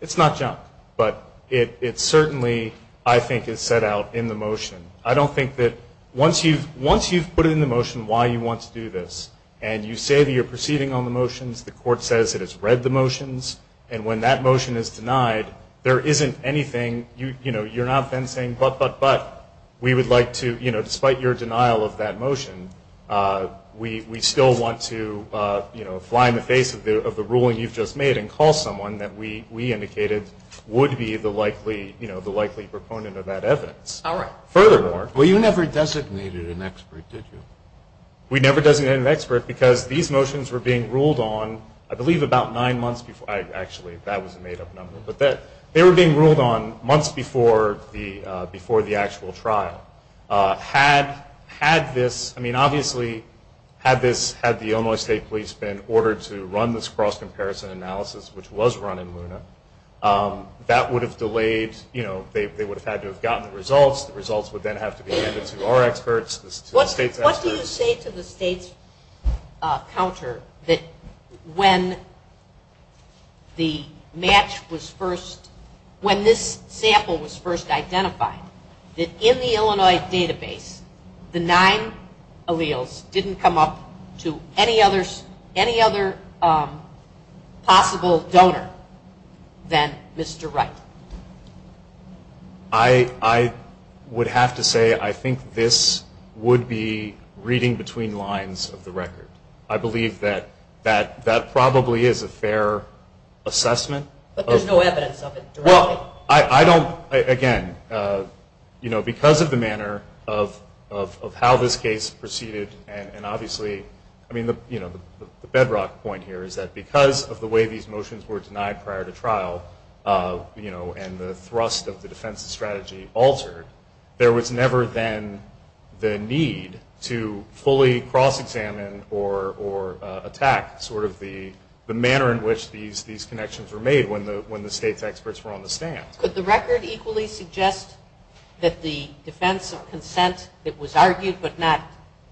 It's not junk, but it certainly, I think, is set out in the motion. I don't think that once you've put in the motion why you want to do this and you say that you're proceeding on the motions, the court says it has read the motions, and when that motion is denied, there isn't anything... You're not then saying, but, but, but, we would like to, despite your denial of that motion, we still want to fly in the face of the ruling you've just made and call someone that we indicated would be the likely proponent of that evidence. All right. Furthermore, you never designated an expert, did you? We never designated an expert because these motions were being ruled on, I believe, about nine months before, actually, that was a made-up number, but they were being ruled on months before the actual trial. Had this, I mean, obviously, had this, had the Illinois State Police been ordered to run this cross-comparison analysis, which was run in Luna, that would have delayed, you know, they would have had to have gotten the results. The results would then have to be handed to our experts, the state experts. What do you say to the state's counter that when the match was first, when this sample was first identified, that in the Illinois database, the nine alleles didn't come up to any other possible donor than Mr. Wright? I would have to say I think this would be reading between lines of the record. I believe that that probably is a fair assessment. But there's no evidence of it directly. Well, I don't, again, you know, because of the manner of how this case proceeded, and obviously, I mean, you know, the bedrock point here is that because of the way that these motions were denied prior to trial, you know, and the thrust of the defense strategy altered, there was never then the need to fully cross-examine or attack sort of the manner in which these connections were made when the state's experts were on the stand. Could the record equally suggest that the defense consent that was argued but not,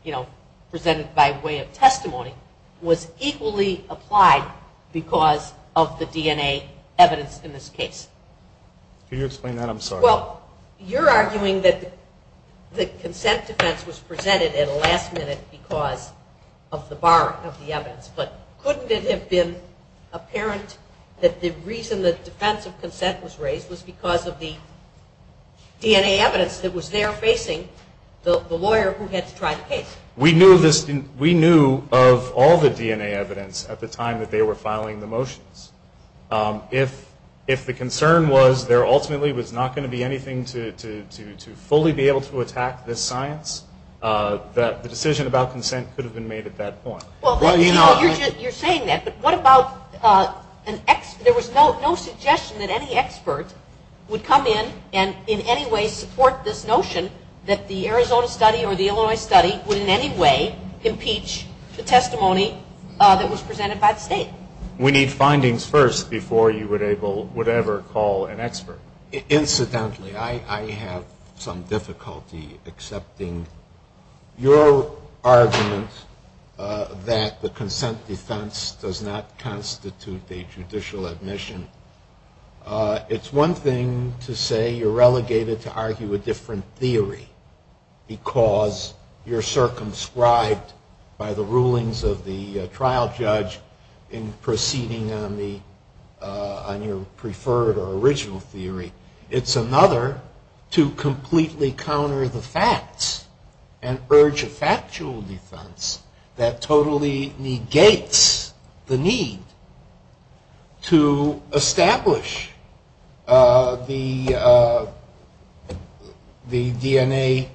you know, presented by way of testimony was equally applied because of the DNA evidence in this case? Can you explain that? I'm sorry. Well, you're arguing that the consent defense was presented at the last minute because of the bar of the evidence. But couldn't it have been apparent that the reason the defense of consent was raised was because of the DNA evidence that was there facing the lawyer who had to try the case? We knew of all the DNA evidence at the time that they were filing the motions. If the concern was there ultimately was not going to be anything to fully be able to attack this science, that the decision about consent could have been made at that point. Well, you're saying that, but what about an expert? There was no suggestion that any expert would come in and in any way support this notion that the Arizona study or the Illinois study would in any way impeach the testimony that was presented by the state. We need findings first before you would ever call an expert. Incidentally, I have some difficulty accepting your argument that the consent defense does not constitute a judicial admission. It's one thing to say you're relegated to argue a different theory because you're circumscribed by the rulings of the trial judge in proceeding on your preferred or original theory. It's another to completely counter the facts and urge a factual defense that totally negates the need to establish the DNA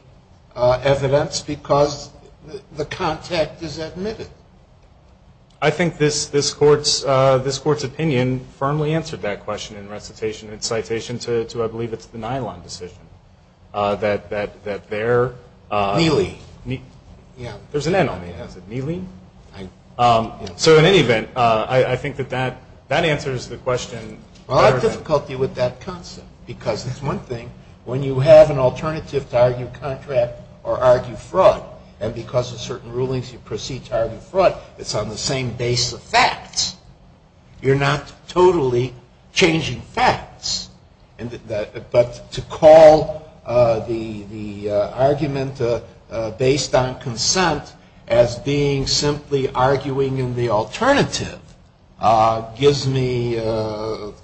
evidence because the content is admitted. Thank you. I think this court's opinion firmly answered that question in recitation and citation to what I believe is the nylon decision. That there... Neely. There's an N on there. Neely? So in any event, I think that that answers the question. I have difficulty with that concept because it's one thing when you have an alternative to argue contract or argue fraud, and because of certain rulings you proceed to argue fraud, it's on the same base of facts. You're not totally changing facts. But to call the argument based on consent as being simply arguing in the alternative gives me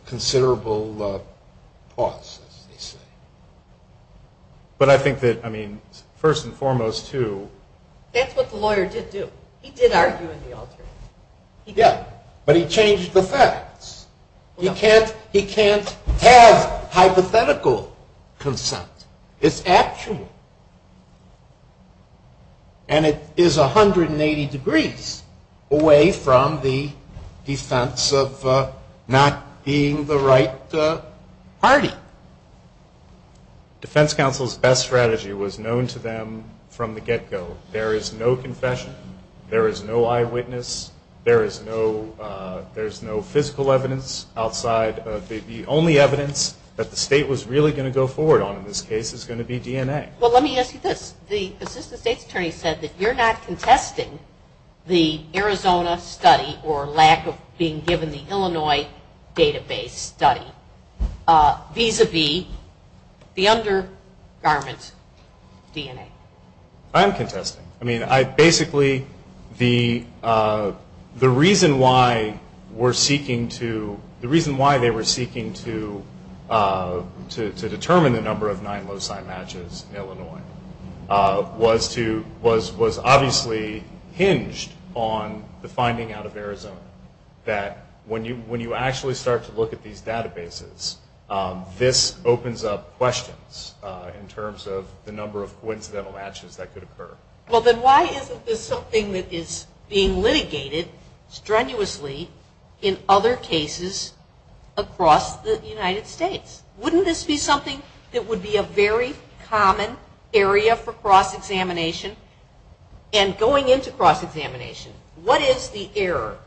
considerable thoughts. But I think that, I mean, first and foremost, too... That's what the lawyer did do. He did argue in the alternative. Yeah, but he changed the facts. He can't have hypothetical consent. It's actual. And it is 180 degrees away from the defense of not being the right party. The defense counsel's best strategy was known to them from the get-go. There is no confession. There is no eyewitness. There is no physical evidence outside of the only evidence that the state was really going to go forward on in this case is going to be DNA. Well, let me ask you this. The state attorney said that you're not contesting the Arizona study or lack of being given the Illinois database study vis-a-vis the undergarments DNA. I'm contesting. I mean, basically, the reason why they were seeking to determine the number of 9 loci matches in Illinois was obviously hinged on the finding out of Arizona that when you actually start to look at these databases, this opens up questions in terms of the number of coincidental matches that could occur. Well, then why isn't this something that is being litigated strenuously in other cases across the United States? Wouldn't this be something that would be a very common area for cross-examination? And going into cross-examination, what is the error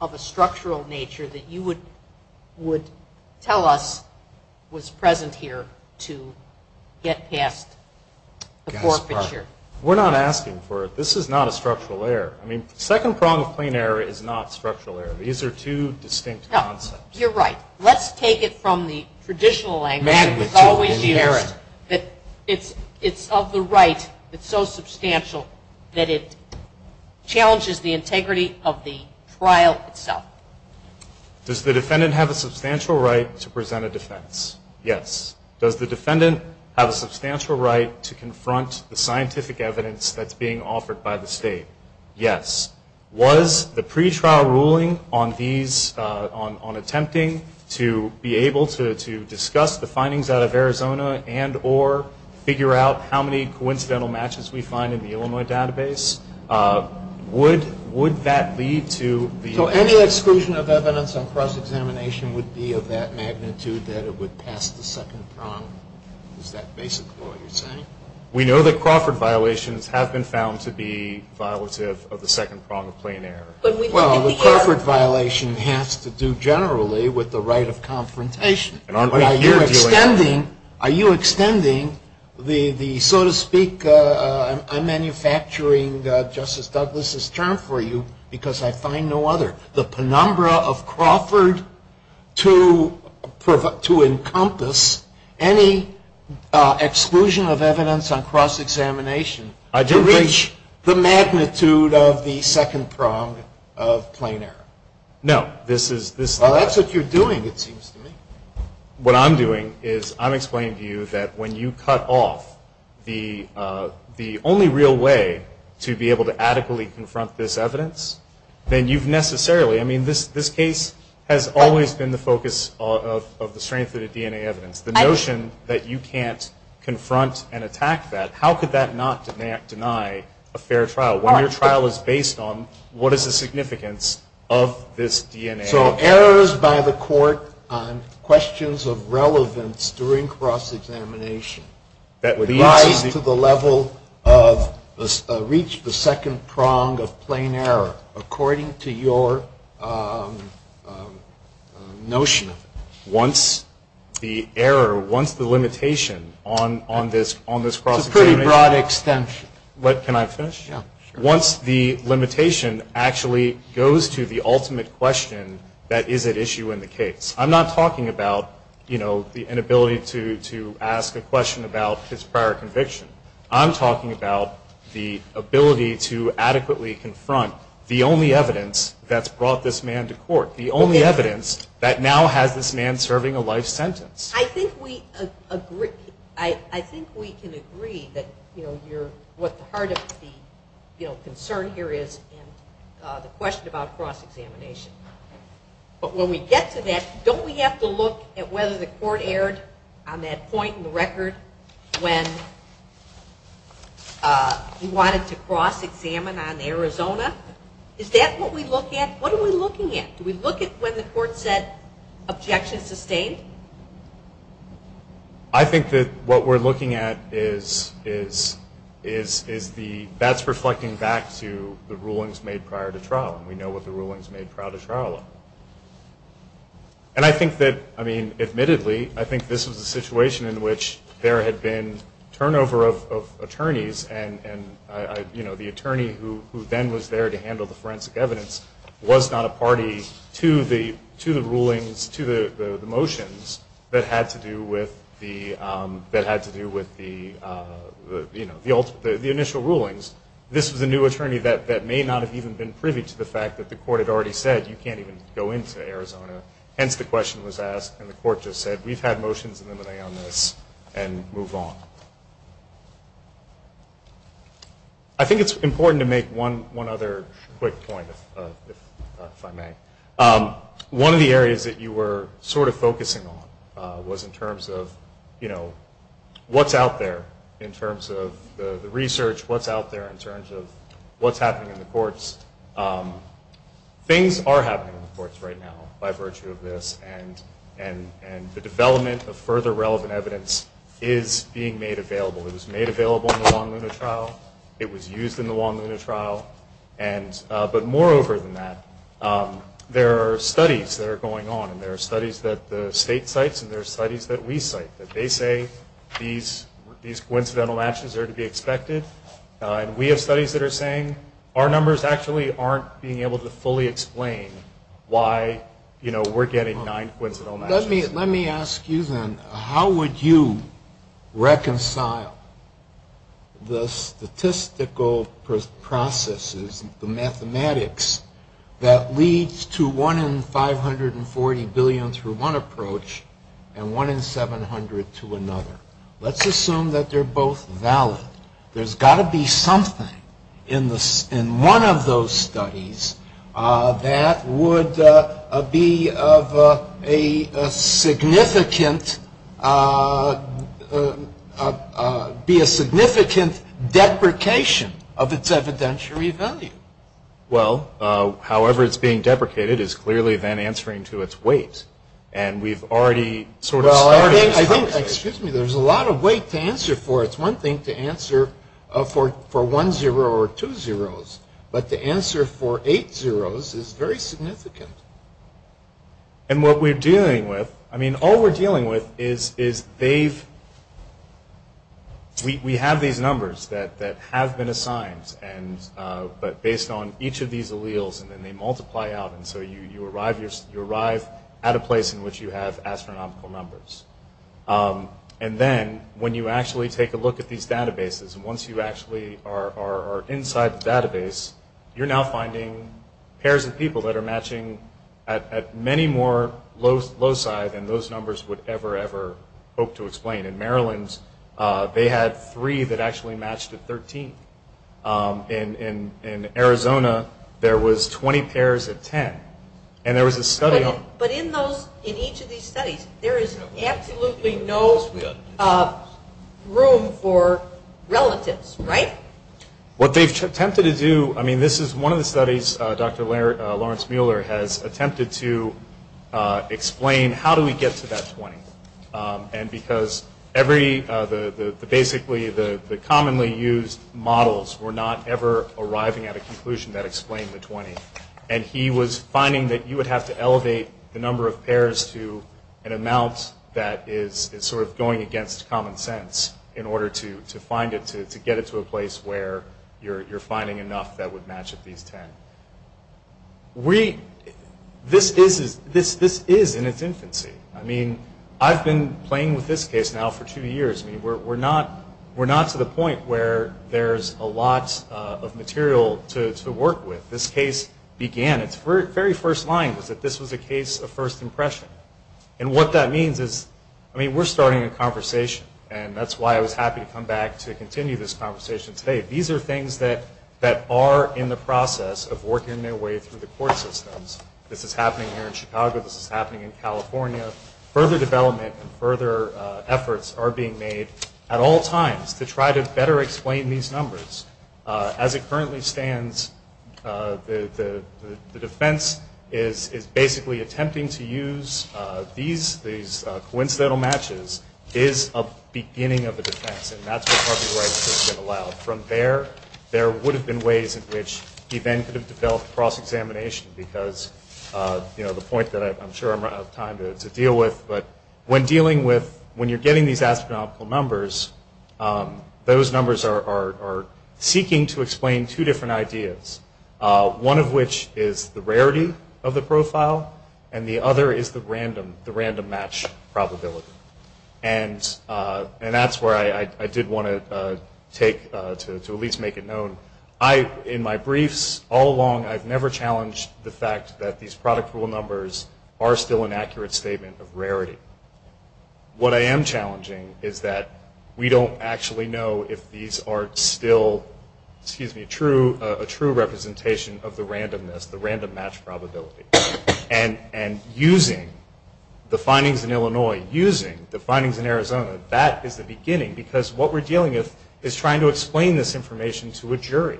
of a structural nature that you would tell us was present here to get past the core picture? We're not asking for it. This is not a structural error. I mean, second-pronged plain error is not a structural error. These are two distinct concepts. You're right. Let's take it from the traditional language. It's of the right that's so substantial that it challenges the integrity of the trial itself. Does the defendant have a substantial right to present a defense? Yes. Does the defendant have a substantial right to confront the scientific evidence that's being offered by the state? Yes. Was the pretrial ruling on attempting to be able to discuss the findings out of Arizona and or figure out how many coincidental matches we find in the Illinois database, would that lead to the- So any exclusion of evidence on cross-examination would be of that magnitude that it would pass the second prong, is that basically what you're saying? We know that Crawford violations have been found to be violative of the second-pronged plain error. Well, the Crawford violation has to do generally with the right of confrontation. Are you extending the, so to speak, I'm manufacturing Justice Douglas' term for you because I find no other. The penumbra of Crawford to encompass any exclusion of evidence on cross-examination to reach the magnitude of the second prong of plain error? No. Well, that's what you're doing, it seems to me. What I'm doing is I'm explaining to you that when you cut off the only real way to be able to adequately confront this evidence, then you've necessarily, I mean, this case has always been the focus of the strength of the DNA evidence. The notion that you can't confront and attack that, how could that not deny a fair trial? When your trial is based on what is the significance of this DNA evidence? So errors by the court on questions of relevance during cross-examination rise to the level of, reach the second prong of plain error, according to your notion. Once the error, once the limitation on this cross-examination. It's a pretty broad extension. Can I finish? Yeah. Once the limitation actually goes to the ultimate question, that is at issue in the case. I'm not talking about, you know, the inability to ask a question about his prior conviction. I'm talking about the ability to adequately confront the only evidence that's brought this man to court. The only evidence that now has this man serving a life sentence. I think we agree, I think we can agree that, you know, you're, what part of the, you know, concern here is the question about cross-examination. But when we get to that, don't we have to look at whether the court erred on that point in the record when you wanted to cross-examine on Arizona? Is that what we look at? What are we looking at? Do we look at whether the court said objection sustained? I think that what we're looking at is the, that's reflecting back to the rulings made prior to trial. We know what the rulings made prior to trial are. And I think that, I mean, admittedly, I think this is a situation in which there had been turnover of attorneys and, you know, the attorney who then was there to handle the forensic evidence was not a party to the rulings, to the motions that had to do with the, that had to do with the, you know, the initial rulings. This is a new attorney that may not have even been privy to the fact that the court had already said you can't even go into Arizona. Hence the question was asked and the court just said we've had motions eliminating on this and move on. I think it's important to make one other quick point, if I may. One of the areas that you were sort of focusing on was in terms of, you know, what's out there in terms of the research, what's out there in terms of what's happening in the courts. Things are happening in the courts right now by virtue of this And the development of further relevant evidence is being made available. It was made available in the Long-Limit Trial. It was used in the Long-Limit Trial. But moreover than that, there are studies that are going on and there are studies that the state cites and there are studies that we cite that they say these coincidental matches are to be expected. We have studies that are saying our numbers actually aren't being able to fully explain why, you know, we're getting nine coincidental matches. Let me ask you then, how would you reconcile the statistical processes, the mathematics, that leads to one in 540 billion through one approach and one in 700 to another? Let's assume that they're both valid. There's got to be something in one of those studies that would be of a significant deprecation of its evidentiary value. Well, however it's being deprecated is clearly then answering to its weight. Well, I think, excuse me, there's a lot of weight to answer for. It's one thing to answer for one zero or two zeros, but the answer for eight zeros is very significant. And what we're dealing with, I mean, all we're dealing with is they've, we have these numbers that have been assigned but based on each of these alleles and then they multiply out and so you arrive at a place in which you have astronomical numbers. And then when you actually take a look at these databases, once you actually are inside the database, you're now finding pairs of people that are matching at many more loci than those numbers would ever, ever hope to explain. In Maryland, they had three that actually matched to 13. In Arizona, there was 20 pairs of 10. But in those, in each of these studies, there is absolutely no room for relatives, right? What they've attempted to do, I mean, this is one of the studies Dr. Lawrence Mueller has attempted to explain, how do we get to that 20? And because every, basically the commonly used models were not ever arriving at a conclusion that explained the 20. And he was finding that you would have to elevate the number of pairs to an amount that is sort of going against common sense in order to find it, to get it to a place where you're finding enough that would match at least 10. We, this is in its infancy. I mean, I've been playing with this case now for two years. We're not to the point where there's a lot of material to work with. This case began, its very first line was that this was a case of first impression. And what that means is, I mean, we're starting a conversation, and that's why I was happy to come back to continue this conversation today. These are things that are in the process of working their way through the court systems. This is happening here in Chicago. This is happening in California. Further development and further efforts are being made at all times to try to better explain these numbers. As it currently stands, the defense is basically attempting to use these coincidental matches is a beginning of the defense. From there, there would have been ways in which we then could have developed cross-examination because, you know, the point that I'm sure I'm out of time to deal with, but when dealing with, when you're getting these astronomical numbers, those numbers are seeking to explain two different ideas. One of which is the rarity of the profile, and the other is the random match probability. And that's where I did want to take, to at least make it known. In my briefs all along, I've never challenged the fact that these product rule numbers are still an accurate statement of rarity. What I am challenging is that we don't actually know if these are still, excuse me, a true representation of the randomness, the random match probability. And using the findings in Illinois, using the findings in Arizona, that is the beginning. Because what we're dealing with is trying to explain this information to a jury.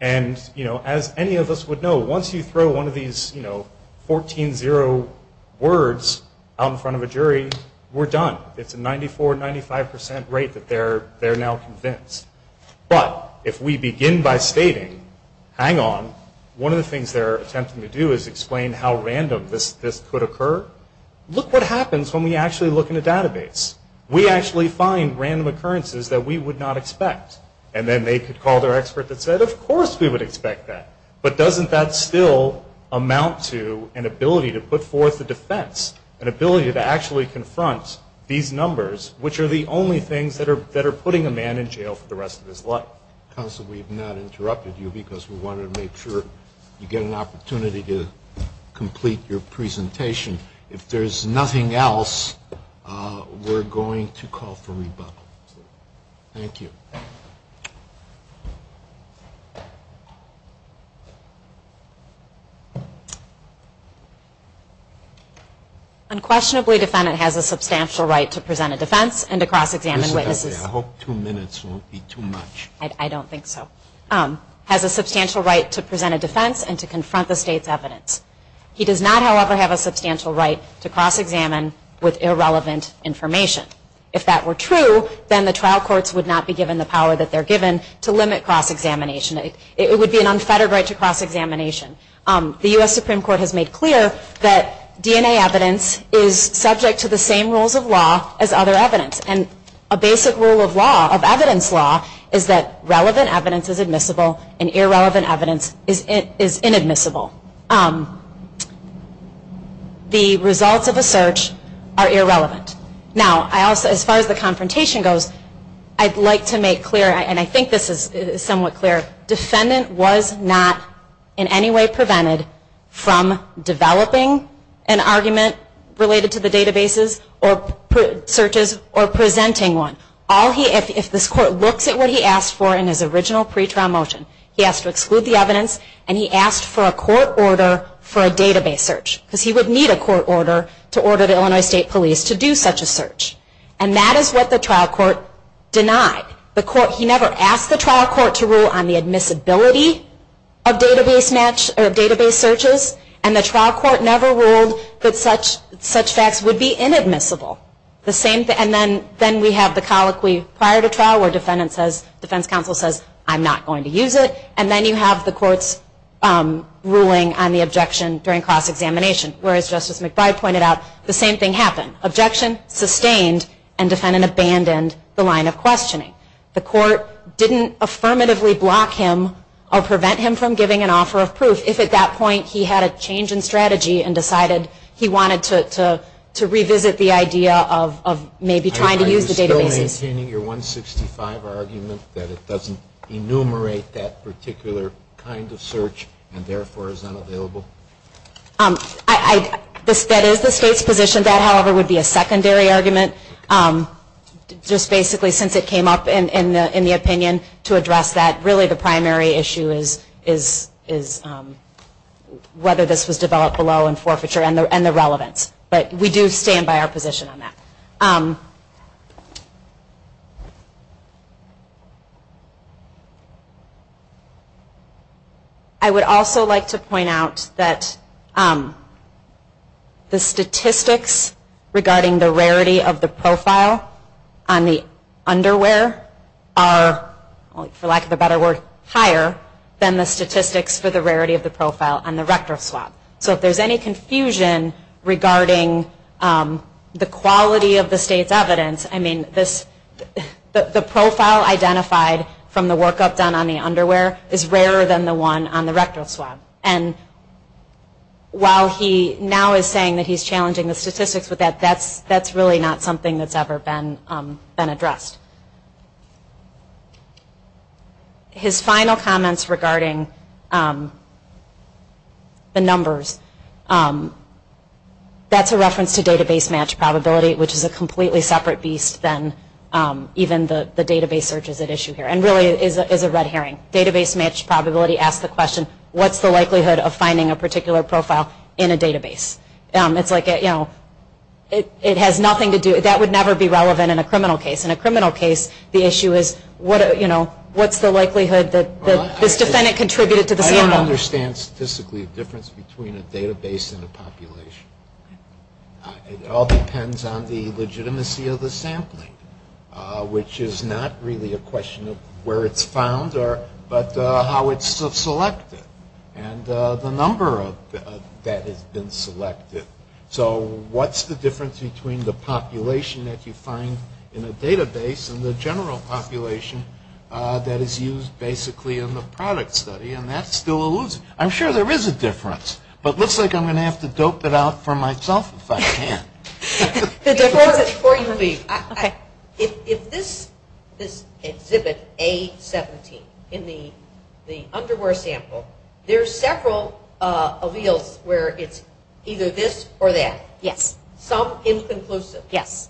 And, you know, as any of us would know, once you throw one of these, you know, 14-0 words out in front of a jury, we're done. It's a 94-95% rate that they're now convinced. But, if we begin by stating, hang on, one of the things they're attempting to do is explain how random this could occur. Look what happens when we actually look in a database. We actually find random occurrences that we would not expect. And then they could call their expert that said, of course we would expect that. But doesn't that still amount to an ability to put forth a defense? An ability to actually confront these numbers, which are the only things that are putting a man in jail for the rest of his life. Counsel, we have not interrupted you because we wanted to make sure you get an opportunity to complete your presentation. If there's nothing else, we're going to call for rebuttal. Thank you. Unquestionably, the defendant has a substantial right to present a defense and to cross-examine. I hope two minutes won't be too much. I don't think so. Has a substantial right to present a defense and to confront the state's evidence. He does not, however, have a substantial right to cross-examine with irrelevant information. If that were true, then the trial courts would not be given the power that they're given to limit cross-examination. It would be an unfettered right to cross-examination. The U.S. Supreme Court has made clear that DNA evidence is subject to the same rules of law as other evidence. And a basic rule of law, of evidence law, is that relevant evidence is admissible and irrelevant evidence is inadmissible. The results of a search are irrelevant. Now, as far as the confrontation goes, I'd like to make clear, and I think this is somewhat clear, the defendant was not in any way prevented from developing an argument related to the databases or searches or presenting one. If this court looked at what he asked for in his original pre-trial motion, he asked to exclude the evidence and he asked for a court order for a database search. Because he would need a court order to order the Illinois State Police to do such a search. And that is what the trial court denied. He never asked the trial court to rule on the admissibility of database searches. And the trial court never ruled that such facts would be inadmissible. And then we have the colloquy prior to trial where the defense counsel says, I'm not going to use it. And then you have the court's ruling on the objection during cross-examination, where, as Justice McBride pointed out, the same thing happened. Objection sustained and the defendant abandoned the line of questioning. The court didn't affirmatively block him or prevent him from giving an offer of proof if at that point he had a change in strategy and decided he wanted to revisit the idea of maybe trying to use the database. Are you still maintaining your 165 argument that it doesn't enumerate that particular kind of search and therefore is unavailable? That is the state's position. That, however, would be a secondary argument, just basically since it came up in the opinion to address that. Really the primary issue is whether this was developed below in forfeiture and the relevance. But we do stand by our position on that. I would also like to point out that the statistics regarding the rarity of the profile on the underwear are, for lack of a better word, higher than the statistics for the rarity of the profile on the retro slot. So if there's any confusion regarding the quality of the state's evidence, I mean, the profile identified from the workup done on the underwear is rarer than the one on the retro slot. And while he now is saying that he's challenging the statistics with that, that's really not something that's ever been addressed. His final comments regarding the numbers, that's a reference to database match probability, which is a completely separate beast than even the database searches at issue here and really is a red herring. Database match probability asks the question, what's the likelihood of finding a particular profile in a database? It's like, you know, it has nothing to do, that would never be relevant in a criminal case. In a criminal case, the issue is, you know, what's the likelihood that this defendant contributed to the family? I don't understand statistically the difference between a database and a population. It all depends on the legitimacy of the sampling, which is not really a question of where it's found, but how it's selected and the number that has been selected. So what's the difference between the population that you find in a database and the general population that is used basically in the product study? And that still eludes me. I'm sure there is a difference, but it looks like I'm going to have to dope it out for myself if I can. If this exhibit, A17, in the underwear sample, there are several alleles where it's either this or that. Yes. Some inconclusive. Yes.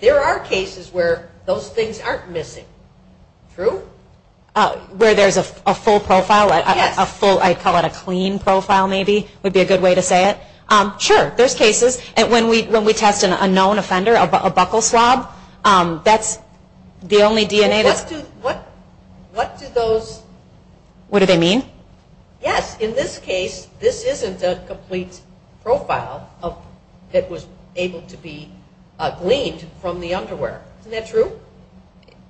There are cases where those things aren't missing. True? Where there's a full profile? Yes. I'd call it a clean profile maybe would be a good way to say it. Sure. There's cases. When we test an unknown offender, a buckle swab, that's the only DNA that... What do those... What do they mean? Yes. In this case, this isn't a complete profile that was able to be gleaned from the underwear. Isn't that true?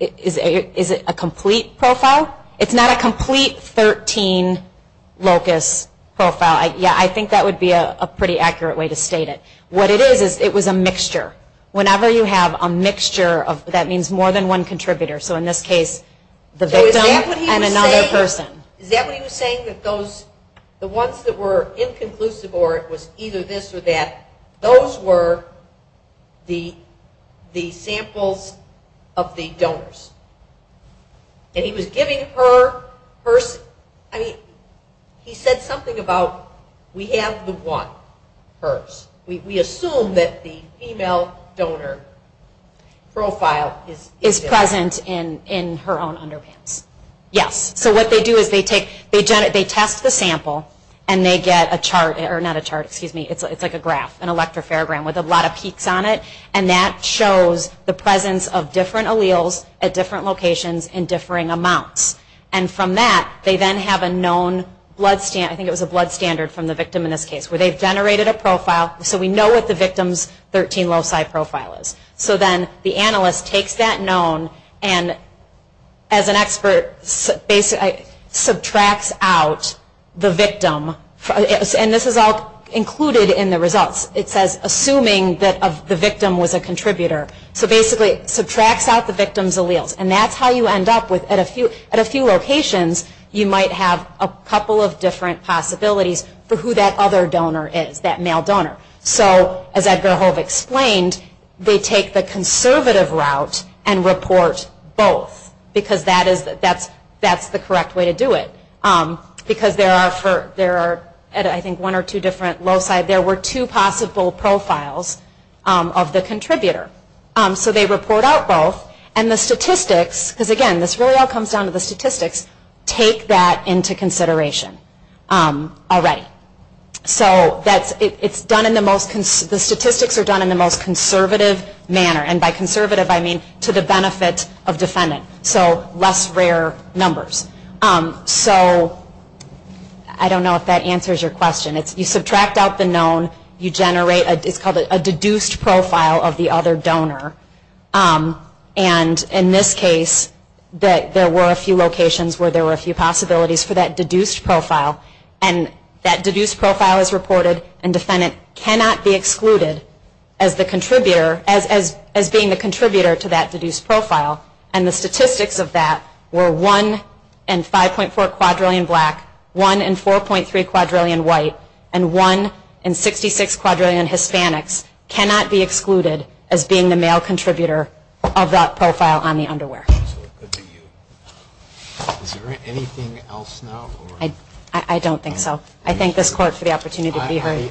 Is it a complete profile? It's not a complete 13 locus profile. I think that would be a pretty accurate way to state it. What it is is it was a mixture. Whenever you have a mixture, that means more than one contributor. In this case, the victim and another person. Is that what he was saying? The ones that were inconclusive or it was either this or that, those were the samples of the donors. He was giving her first... He said something about we have the one first. We assume that the female donor profile is... Is present in her own underwear. Yes. What they do is they test the sample and they get a chart... Not a chart, excuse me. It's like a graph, an electro-paragraph with a lot of peaks on it. And that shows the presence of different alleles at different locations in differing amounts. And from that, they then have a known blood... I think it was a blood standard from the victim in this case where they've generated a profile. So we know what the victim's 13 loci profile is. So then the analyst takes that known and as an expert, subtracts out the victim. And this is all included in the results. It says assuming that the victim was a contributor. So basically, subtracts out the victim's alleles. And that's how you end up with... At a few locations, you might have a couple of different possibilities for who that other donor is, that male donor. So as Edgar Hove explained, they take the conservative route and report both because that's the correct way to do it. Because there are, I think, one or two different loci. There were two possible profiles of the contributor. So they report out both. And the statistics, because again, this really all comes down to the statistics, take that into consideration. All right. So it's done in the most... The statistics are done in the most conservative manner. And by conservative, I mean to the benefit of defendants. So less rare numbers. So I don't know if that answers your question. You subtract out the known. You generate a... It's called a deduced profile of the other donor. And in this case, there were a few locations where there were a few possibilities for that deduced profile. And that deduced profile is reported. And defendant cannot be excluded as the contributor, as being the contributor to that deduced profile. And the statistics of that were 1 in 5.4 quadrillion black, 1 in 4.3 quadrillion white, and 1 in 66 quadrillion Hispanics cannot be excluded as being the male contributor of that profile on the underwear. Is there anything else now? I don't think so. I thank this court for the opportunity to be here. Okay,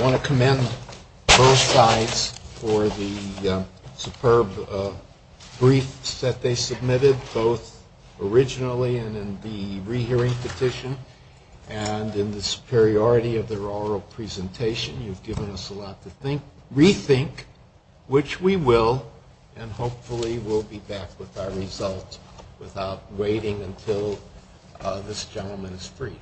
I want to commend both sides for the superb briefs that they submitted, both originally and in the rehearing petition and in the superiority of their oral presentation. You've given us a lot to rethink, which we will. And hopefully we'll be back with our results without waiting until this gentleman is free.